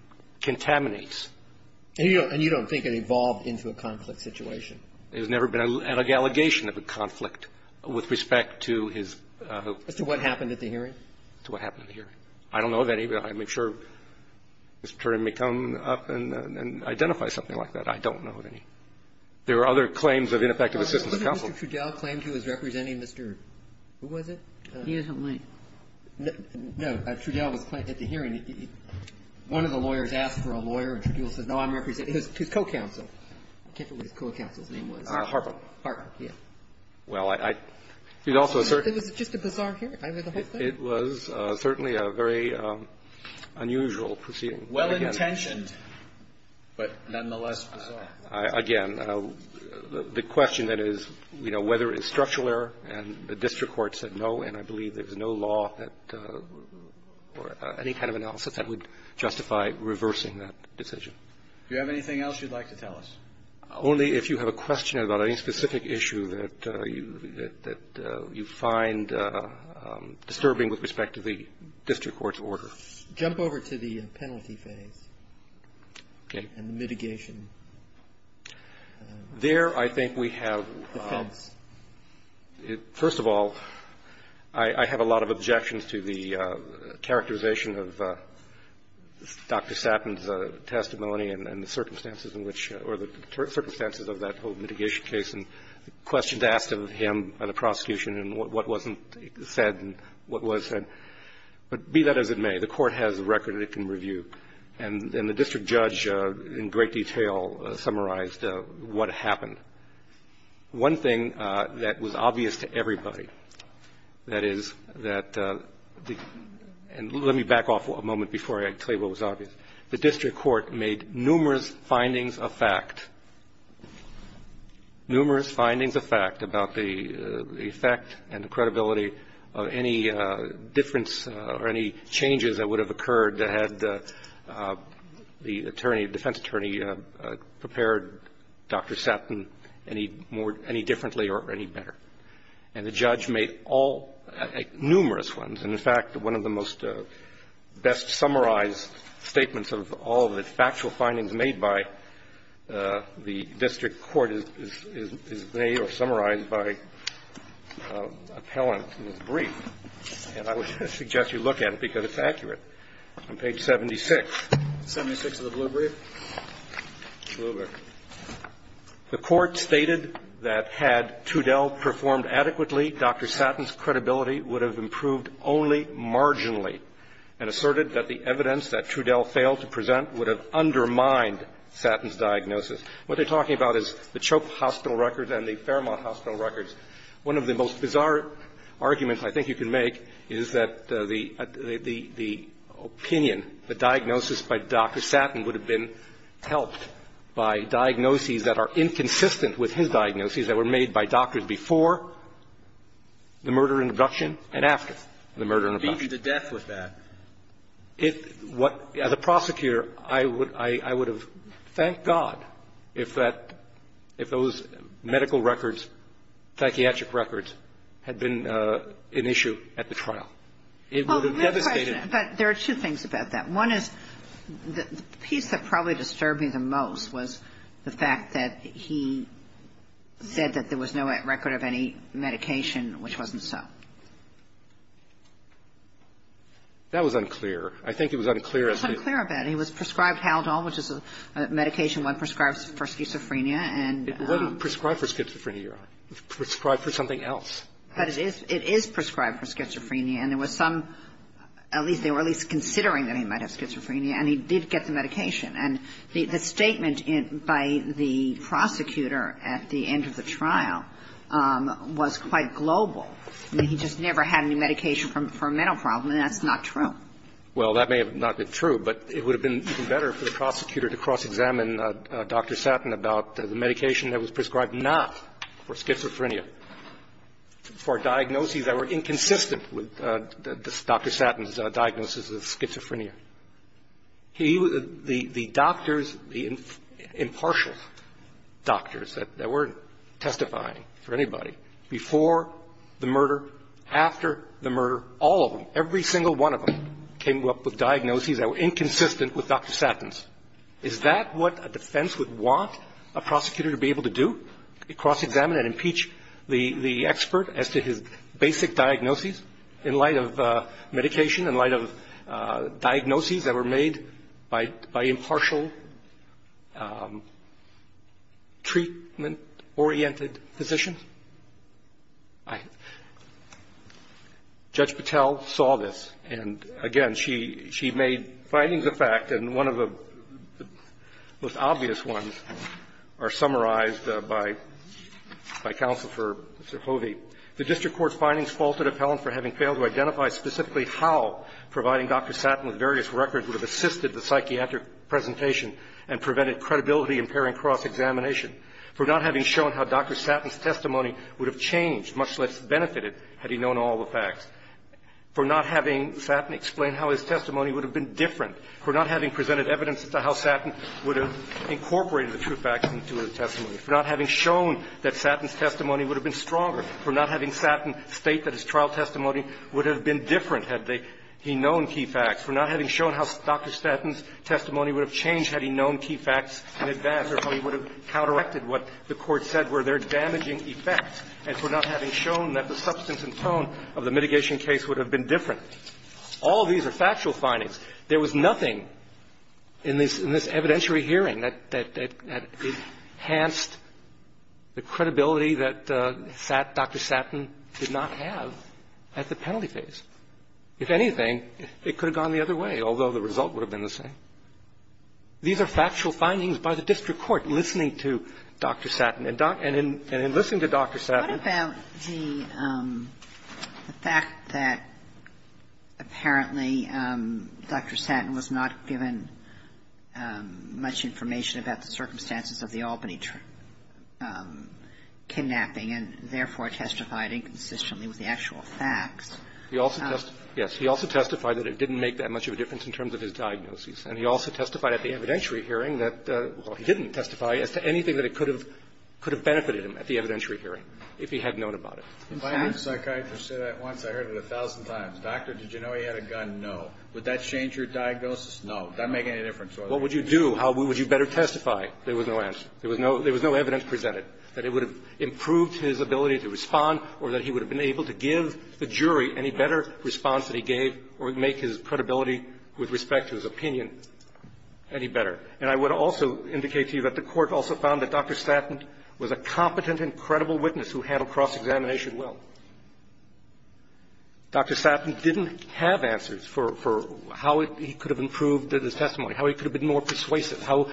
contaminates- And you don't think it evolved into a conflict situation? It has never been an allegation of a conflict with respect to his- To what happened at the hearing? To what happened at the hearing. I don't know of any. I'm not sure. The attorney may come up and identify something like that. I don't know of any. There are other claims of ineffective assistance of counsel. Mr. Trudell claimed he was representing Mr., who was it? He isn't Lee. No, Mr. Trudell was at the hearing. One of the lawyers asked for a lawyer, and Trudell said, no, I'm representing his co-counsel. I can't remember the co-counsel's name was. Harpeth. Harpeth, yes. Well, I- Is it just a bizarre case? It was certainly a very unusual proceeding. Well-intentioned, but nonetheless bizarre. Again, the question that is, you know, whether it's structural error, and the district court said no, and I believe there's no law that, or any kind of analysis that would justify reversing that decision. If you have anything else you'd like to tell us. Only if you have a question about any specific issue that you find disturbing with respect to the district court's order. Jump over to the penalty thing. Okay. And mitigation. There I think we have, first of all, I have a lot of objections to the characterization of Dr. Satton's testimony and the circumstances in which, or the circumstances of that whole mitigation case, and the questions asked of him by the prosecution, and what wasn't said, and what was said. But be that as it may, the court has a record it can review. And the district judge, in great detail, summarized what happened. One thing that was obvious to everybody, that is that, and let me back off a moment before I tell you what was obvious. The district court made numerous findings of fact, numerous findings of fact about the effect and credibility of any difference or any changes that would have occurred that had the attorney, defense attorney, prepared Dr. Satton any differently or any better. And the judge made all, numerous ones. And, in fact, one of the most best summarized statements of all, the factual findings made by the district court is made or summarized by appellant in his brief. And I would suggest you look at it because it's accurate. On page 76. 76 of the blue brief. Blue brief. The court stated that had Trudell performed adequately, Dr. Satton's credibility would have improved only marginally and asserted that the evidence that Trudell failed to present would have undermined Satton's diagnosis. What they're talking about is the Choke Hospital records and the Fairmont Hospital records. One of the most bizarre arguments I think you can make is that the opinion, the diagnosis by Dr. Satton would have been helped by diagnoses that are inconsistent with his diagnoses that were made by doctors before the murder and abduction and after the murder and abduction. Maybe the death was that. As a prosecutor, I would have thanked God if those medical records and psychiatric records had been an issue at the trial. There are two things about that. One is the piece that probably disturbed me the most was the fact that he said that there was no record of any medication which wasn't Satton. That was unclear. I think it was unclear. It was unclear about it. He was prescribed Haldol, which is a medication one prescribes for schizophrenia. It wasn't prescribed for schizophrenia. It was prescribed for something else. But it is prescribed for schizophrenia, and there was some, at least they were at least considering that he might have schizophrenia, and he did get the medication. And the statement by the prosecutor at the end of the trial was quite global. He just never had any medication for a mental problem, and that's not true. Well, that may have not been true, but it would have been even better for the prosecutor to cross-examine Dr. Satton about the medication that was prescribed not for schizophrenia, for a diagnosis that were inconsistent with Dr. Satton's diagnosis of schizophrenia. The doctors, the impartial doctors that weren't testifying for anybody, before the murder, after the murder, all of them, every single one of them came up with diagnoses that were inconsistent with Dr. Satton's. Is that what a defense would want a prosecutor to be able to do, to cross-examine and impeach the expert as to his basic diagnoses in light of medication, in light of diagnoses that were made by impartial treatment-oriented physicians? Judge Patel saw this, and again, she made findings of fact, and one of the most obvious ones are summarized by Counsel for Sokovia. The district court's findings false at appellant for having failed to identify specifically how providing Dr. Satton with various records would have assisted the psychiatric presentation and prevented credibility impairing cross-examination. For not having shown how Dr. Satton's testimony would have changed, much less benefited had he known all the facts. For not having Satton explained how his testimony would have been different. For not having presented evidence about how Satton would have incorporated the true facts into his testimony. For not having shown that Satton's testimony would have been stronger. For not having Satton state that his trial testimony would have been different had he known key facts. For not having shown how Dr. Satton's testimony would have changed had he known key facts in advance or he would have counteracted what the court said were their damaging effects. And for not having shown that the substance and tone of the mitigation case would have been different. All these are factual findings. There was nothing in this evidentiary hearing that enhanced the credibility that Dr. Satton did not have at the penalty phase. If anything, it could have gone the other way, although the result would have been the same. These are factual findings by the district court listening to Dr. Satton. And in listening to Dr. Satton. What about the fact that apparently Dr. Satton was not given much information about the circumstances of the Albany kidnapping and therefore testified inconsistently with the actual facts. Yes, he also testified that it didn't make that much of a difference in terms of his diagnosis. And he also testified at the evidentiary hearing that, well he didn't testify, anything that could have benefited him at the evidentiary hearing if he had known about it. If I had a psychiatrist say that once, I heard it a thousand times. Doctor, did you know he had a gun? No. Would that change your diagnosis? No. Does that make any difference? What would you do? How would you better testify? There was no answer. There was no evidence presented that it would have improved his ability to respond or that he would have been able to give the jury any better response that he gave or make his credibility with respect to his opinion any better. And I would also indicate to you that the court also found that Dr. Satton was a competent and credible witness who handled cross-examination well. Dr. Satton didn't have answers for how he could have improved his testimony, how he could have been more persuasive, how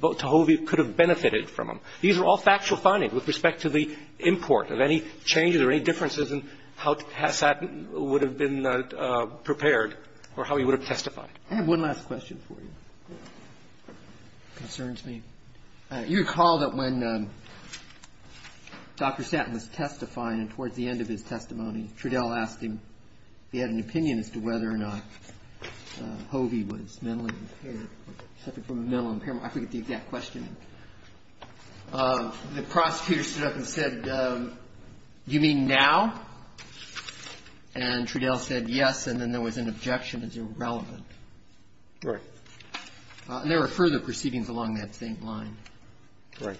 Tohovi could have benefited from him. These are all factual findings with respect to the import. Are there any changes or any differences in how Satton would have been prepared or how he would have testified? I have one last question for you. It concerns me. You recall that when Dr. Satton was testifying and towards the end of his testimony, Trudell asked him if he had an opinion as to whether or not Tohovi was mentally impaired, I forget the exact question. The prosecutor stood up and said, you mean now? And Trudell said yes, and then there was an objection as irrelevant. Right. And there were further proceedings along that same line. Right.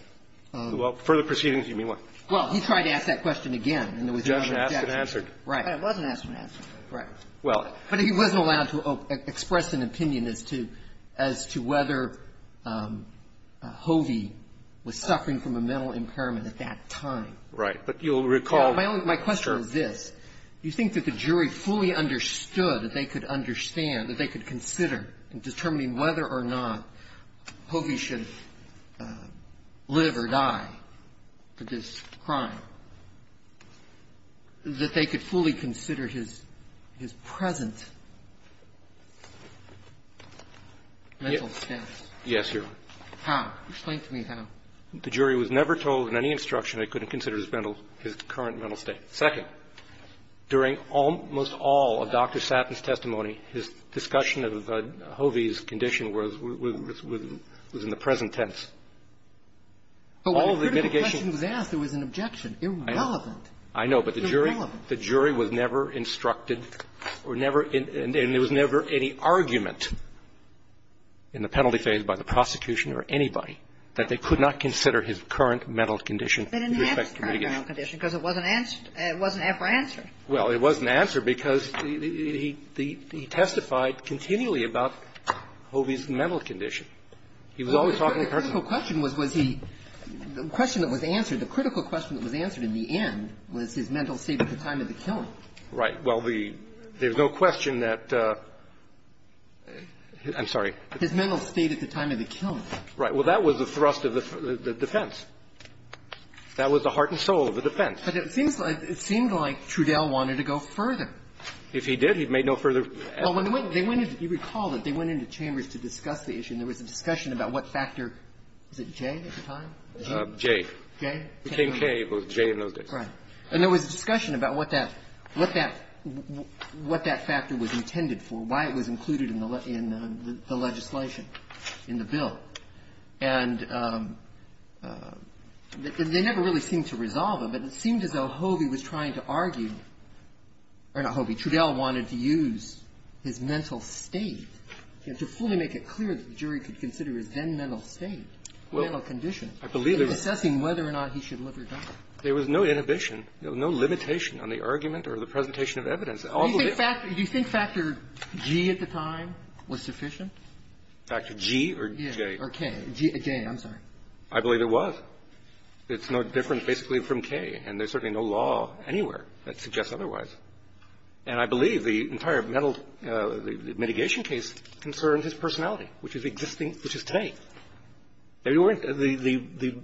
Well, further proceedings, you mean what? Well, he tried to ask that question again. And the objection was answered. Right. And it wasn't answered. Right. But he wasn't allowed to express an opinion as to whether Tohovi was suffering from a mental impairment at that time. Right. But you'll recall. My question was this. Do you think that the jury fully understood that they could understand, that they could consider in determining whether or not Tohovi should live or die for this crime, that they could fully consider his present mental state? Yes, sir. How? Explain to me how. The jury was never told in any instruction they couldn't consider his current mental state. Second, during almost all of Dr. Satton's testimony, his discussion of Tohovi's condition was in the present tense. But when the question was asked, it was an objection. It wasn't relevant. I know. But the jury was never instructed, and there was never any argument in the penalty phase by the prosecution or anybody, that they could not consider his current mental condition in respect to mitigation. They didn't have a current mental condition because it wasn't ever answered. Well, it wasn't answered because he testified continually about Tohovi's mental condition. The critical question that was answered in the end was his mental state at the time of the killing. Right. Well, there's no question that – I'm sorry. His mental state at the time of the killing. Right. Well, that was the thrust of the defense. That was the heart and soul of the defense. But it seemed like Trudell wanted to go further. If he did, he'd make no further – Well, you recall that they went into chambers to discuss the issue, and there was a discussion about what factor – was it J at the time? J. J? It became K, both J and Logan. Right. And there was a discussion about what that factor was intended for, why it was included in the legislation, in the bill. And they never really seemed to resolve it, But it seemed as though Tohovi was trying to argue – or not Tohovi, Trudell wanted to use his mental state to fully make it clear that the jury could consider his then mental state, mental condition, assessing whether or not he should live or die. There was no inhibition, no limitation on the argument or the presentation of evidence. Do you think factor G at the time was sufficient? Factor G or J? Or K. J, I'm sorry. I believe it was. It's no different, basically, from K, and there's certainly no law anywhere that suggests otherwise. And I believe the entire mitigation case concerned his personality, which is K. There weren't the,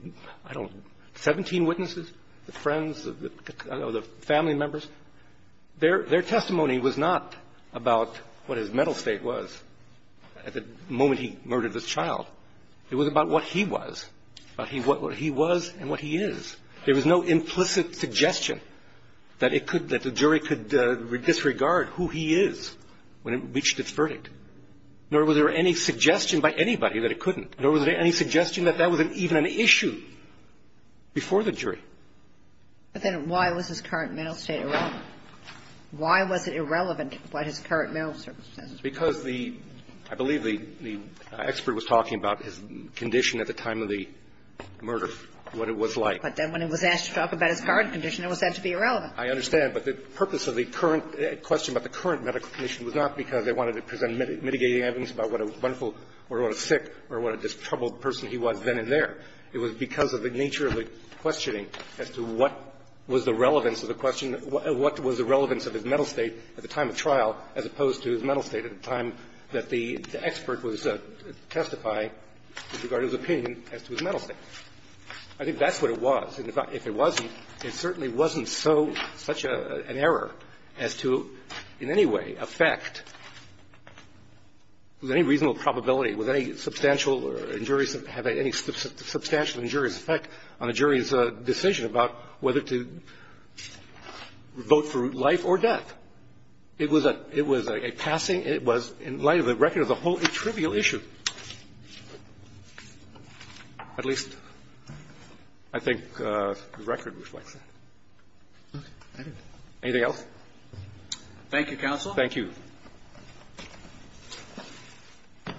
I don't know, 17 witnesses, the friends, the family members. Their testimony was not about what his mental state was at the moment he murdered this child. It was about what he was, what he was and what he is. There was no implicit suggestion that the jury could disregard who he is when it reached its verdict. Nor was there any suggestion by anybody that it couldn't. Nor was there any suggestion that that was even an issue before the jury. But then why was his current mental state irrelevant? Why was it irrelevant, what his current mental state says? Because the, I believe the expert was talking about his condition at the time of the murder, what it was like. But then when he was asked to talk about his current condition, it was said to be irrelevant. I understand. But the purpose of the current question about the current medical condition was not because they wanted to present mitigating evidence about what a wonderful or what a sick or what a troubled person he was then and there. It was because of the nature of the questioning as to what was the relevance of the question, what was the relevance of his mental state at the time of trial as opposed to his mental state at the time that the expert was testifying with regard to his opinion as to his mental state. I think that's what it was. And if it wasn't, it certainly wasn't so, such an error as to in any way affect, with any reasonable probability, with any substantial, a jury can have any substantial injury effect on a jury's decision about whether to vote for life or death. It was a passing, it was in light of the record as a whole a trivial issue. At least I think the record reflects that. Anything else? Thank you, counsel. Thank you. There's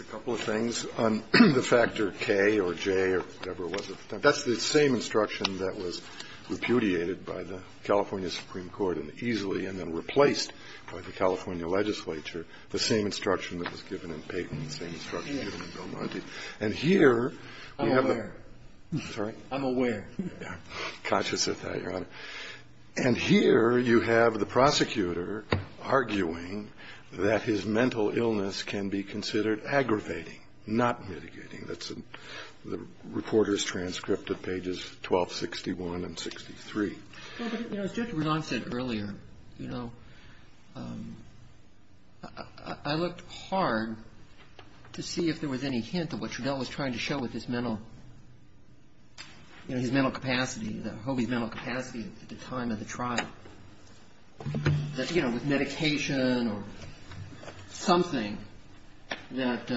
a couple of things on the factor K or J or whatever it was. That's the same instruction that was repudiated by the California Supreme Court and easily and then replaced by the California legislature, the same instruction that was given in Peyton, the same instruction given in Bill Murphy. And here we have the ‑‑ I'm aware. Sorry? I'm aware. I'm conscious of that, Your Honor. And here you have the prosecutor arguing that his mental illness can be considered aggravating, not mitigating. That's the reporter's transcript at pages 1261 and 63. As Judge Renon said earlier, you know, I looked hard to see if there was any hint of what Trudell was trying to show with his mental, you know, his mental capacity, that holy mental capacity at the time of the trial. That, you know, with medication or something that,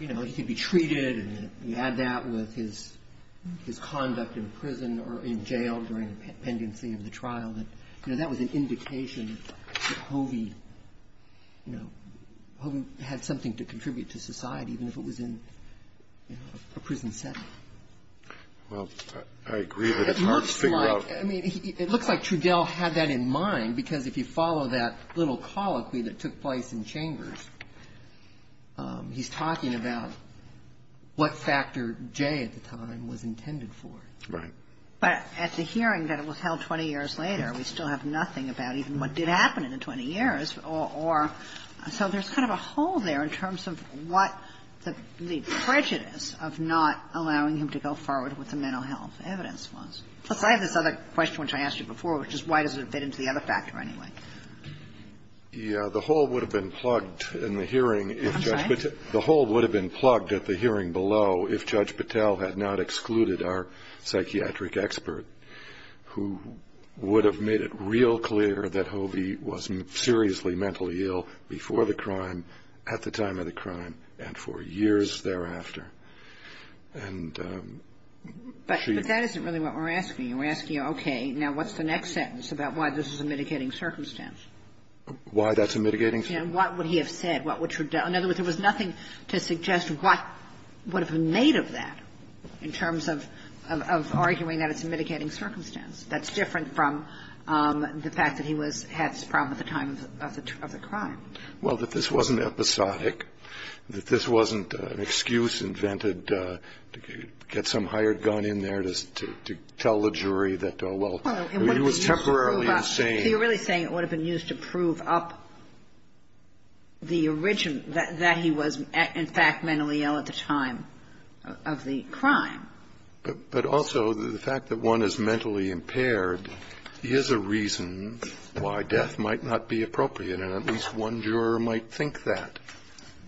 you know, he could be treated and you add that with his conduct in prison or in jail during the pendency of the trial, you know, that was an indication that Hobey, you know, Hobey had something to contribute to society even if it was in, you know, a prison sentence. Well, I agree, but it's hard to figure out. It looks like, I mean, it looks like Trudell had that in mind because if you follow that little colloquy that took place in Chambers, he's talking about what Factor J at the time was intended for. Right. But at the hearing that was held 20 years later, we still have nothing about even what did happen in the 20 years, or so there's kind of a hole there in terms of what the prejudice of not allowing him to go forward with the mental health evidence was. Besides this other question, which I asked you before, which is why does it fit into the other factor anyway? Yeah, the hole would have been plugged in the hearing. The hole would have been plugged at the hearing below if Judge Patel had not excluded our psychiatric expert who would have made it real clear that Hobey was seriously mentally ill before the crime, at the time of the crime, and for years thereafter. But that isn't really what we're asking. We're asking, okay, now what's the next sentence about why this is a mitigating circumstance? Why that's a mitigating circumstance? And what would he have said? In other words, there was nothing to suggest what would have been made of that in terms of arguing that it's a mitigating circumstance. That's different from the fact that he had this problem at the time of the crime. Well, that this wasn't episodic, that this wasn't an excuse invented to get some hired gun in there to tell the jury that, well, he was temporarily insane. So you're really saying it would have been used to prove up the origin, that he was, in fact, mentally ill at the time of the crime. But also the fact that one is mentally impaired is a reason why death might not be appropriate, and at least one juror might think that.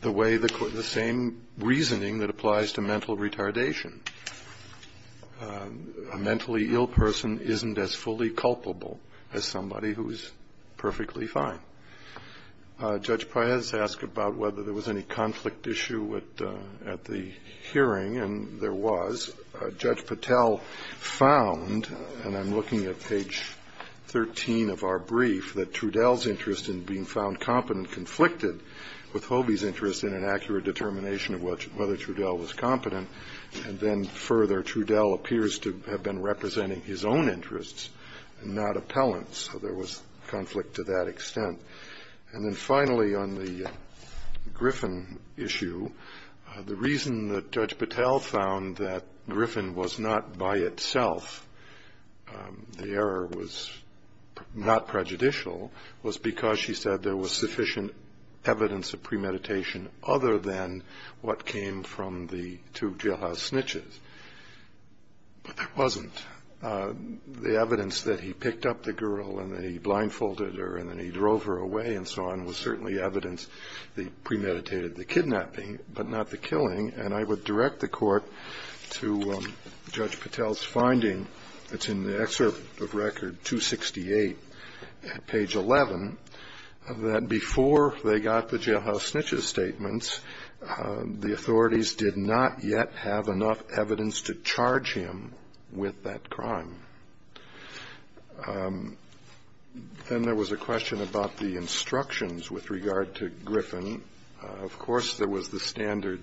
The same reasoning that applies to mental retardation. A mentally ill person isn't as fully culpable as somebody who is perfectly fine. Judge Paez asked about whether there was any conflict issue at the hearing, and there was. Judge Patel found, and I'm looking at page 13 of our brief, that Trudell's interest in being found competent conflicted with Hobie's interest in an accurate determination of whether Trudell was competent. And then further, Trudell appears to have been representing his own interests and not appellants, so there was conflict to that extent. And then finally on the Griffin issue, the reason that Judge Patel found that Griffin was not by itself, the error was not prejudicial, was because she said there was sufficient evidence of premeditation other than what came from the two jailhouse snitches. But there wasn't. The evidence that he picked up the girl and then he blindfolded her and then he drove her away and so on was certainly evidence that he premeditated the kidnapping, but not the killing. And I would direct the court to Judge Patel's finding that's in the excerpt of record 268 at page 11, that before they got the jailhouse snitches' statements, the authorities did not yet have enough evidence to charge him with that crime. Then there was a question about the instructions with regard to Griffin. Of course there was the standard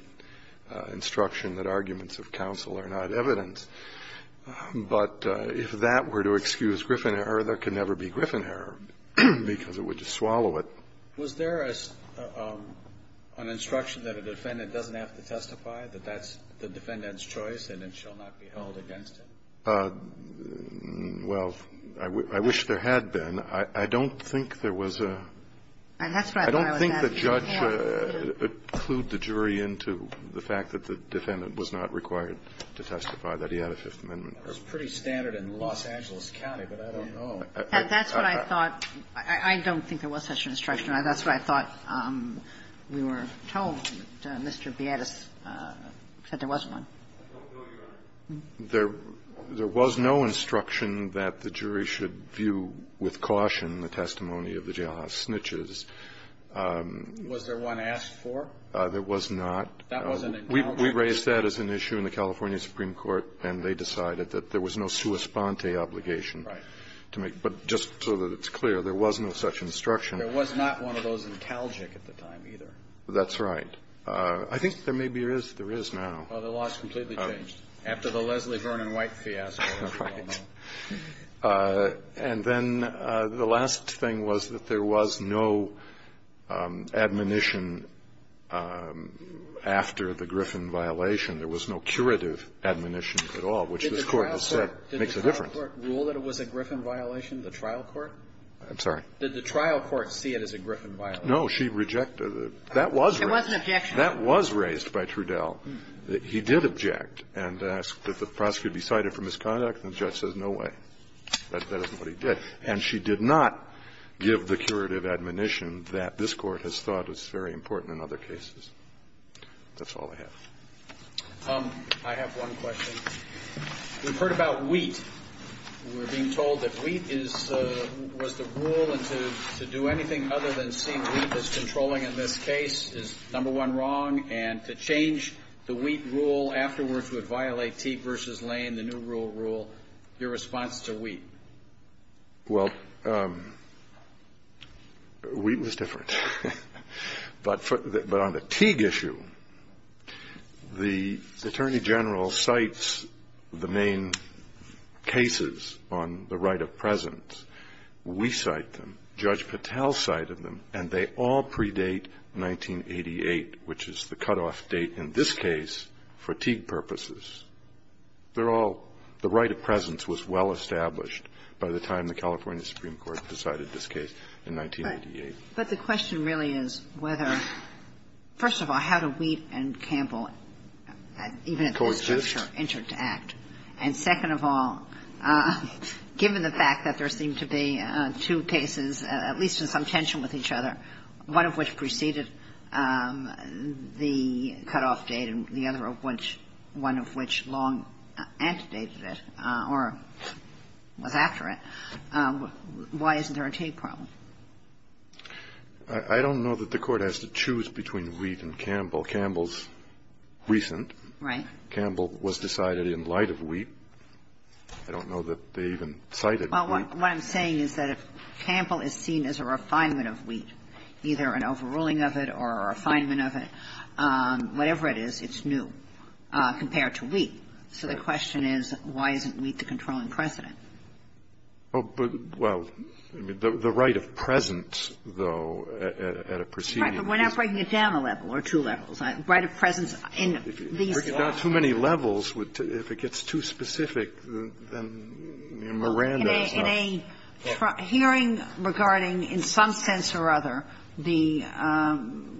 instruction that arguments of counsel are not evidence, but if that were to excuse Griffin error, there could never be Griffin error because it would just swallow it. Was there an instruction that a defendant doesn't have to testify, that that's the defendant's choice, and it shall not be held against him? Well, I wish there had been. I don't think there was a – I don't think the judge clued the jury into the fact that the defendant was not required to testify that he had a Fifth Amendment. That's pretty standard in Los Angeles County, but I don't know. That's what I thought. I don't think there was such an instruction. That's what I thought. We were told, Mr. Vietas, that there was one. There was no instruction that the jury should view with caution the testimony of the jailhouse snitches. Was there one asked for? There was not. We raised that as an issue in the California Supreme Court, and they decided that there was no sua sponte obligation to make. But just so that it's clear, there was no such instruction. There was not one of those in Talgic at the time either. That's right. I think there maybe is now. Well, the law has completely changed after the Leslie Vernon White fiasco. Right. And then the last thing was that there was no admonition after the Griffin violation. There was no curative admonitions at all, which this Court has said makes a difference. Did the trial court rule that it was a Griffin violation, the trial court? I'm sorry? Did the trial court see it as a Griffin violation? No, she rejected it. That was raised. It was an objection. Well, he did object and asked if the prosecutor could be cited for misconduct, and the judge said no way. That is what he did. And she did not give the curative admonition that this Court has thought is very important in other cases. That's all I have. I have one question. We've heard about WEAP. We're being told that WEAP was the rule, and to do anything other than seeing WEAP as controlling in this case is, number one, wrong, and to change the WEAP rule afterwards would violate Teague v. Lane, the new rule of rule. Your response to WEAP? Well, WEAP was different. But on the Teague issue, the Attorney General cites the main cases on the right of presence. We cite them. Judge Patel cited them, and they all predate 1988, which is the cutoff date in this case for Teague purposes. They're all the right of presence was well established by the time the California Supreme Court decided this case in 1988. But the question really is whether, first of all, how do WEAP and Campbell, even at this juncture, enter to act? And second of all, given the fact that there seem to be two cases at least in some tension with each other, one of which preceded the cutoff date and the other one of which long after it, why isn't there a Teague problem? I don't know that the Court has to choose between WEAP and Campbell. Campbell's recent. Right. Right of WEAP. I don't know that they even cited WEAP. Well, what I'm saying is that if Campbell is seen as a refinement of WEAP, either an overruling of it or a refinement of it, whatever it is, it's new compared to WEAP. So the question is, why isn't WEAP the controlling precedent? Well, the right of presence, though, at a preceding case. Right, but we're not breaking it down a level or two levels. Right of presence in the... We're not breaking down too many levels. If it gets too specific, then Miranda. In a hearing regarding, in some sense or other, the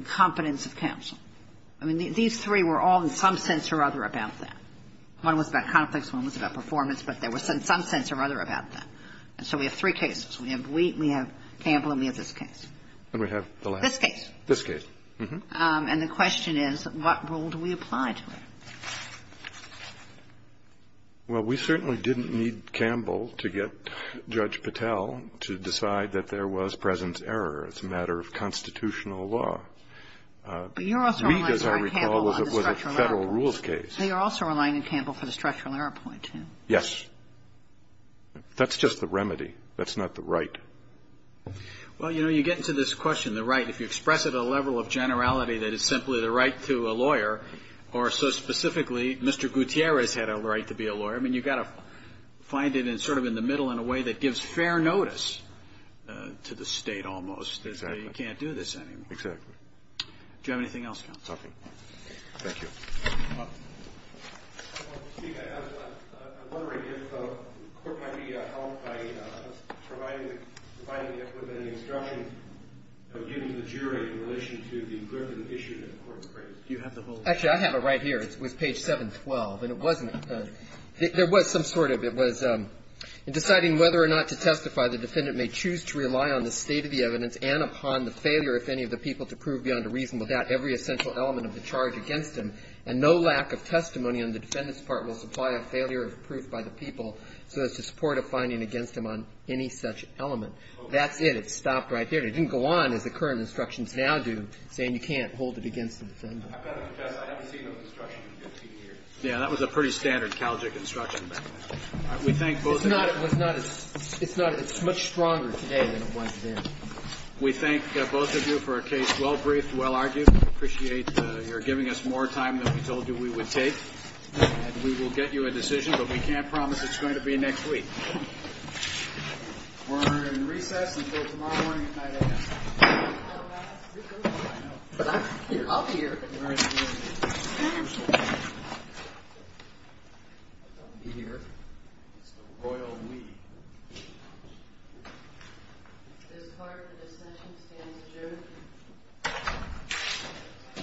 competence attempts. I mean, these three were all in some sense or other about that. One was about conflicts, one was about performance, but they were in some sense or other about that. And so we have three cases. We have WEAP, we have Campbell, and we have this case. And we have the last... This case. This case. And the question is, what rule do we apply to it? Well, we certainly didn't need Campbell to get Judge Patel to decide that there was presence error. It's a matter of constitutional law. But you're also relying on Campbell for the structural error point. He, as I recall, was at a federal rules case. Yes. That's just the remedy. That's not the right. Well, you know, you get into this question, the right. If you express it at a level of generality that it's simply the right to a lawyer. Or so specifically, Mr. Gutierrez had a right to be a lawyer. I mean, you've got to find it in sort of in the middle in a way that gives fair notice to the state almost. You can't do this anymore. Exactly. Do you have anything else? Nothing. Thank you. I was wondering if the court might be helped by providing it with an instruction given to the jury in relation to the grip of the issue that the court has raised. Actually, I have it right here. It's page 712. And it wasn't. There was some sort of. It was, in deciding whether or not to testify, the defendant may choose to rely on the state of the evidence and upon the failure, if any, of the people to prove beyond a reasonable doubt every essential element of the charge against them. And no lack of testimony on the defendant's part will supply a failure of proof by the people so as to support a finding against them on any such element. That's it. It stopped right there. It didn't go on as the current instructions now do, saying you can't hold it against the defendant. I haven't seen those instructions in 50 years. Yeah, that was a pretty standard Calgic instruction. We thank both of you. It's much stronger today than it was then. We thank both of you for a case well-briefed, well-argued. We appreciate your giving us more time than we told you we would take. And we will get you a decision. But we can't promise it's going to be next week. We're going to recess until tomorrow morning. I'll be here.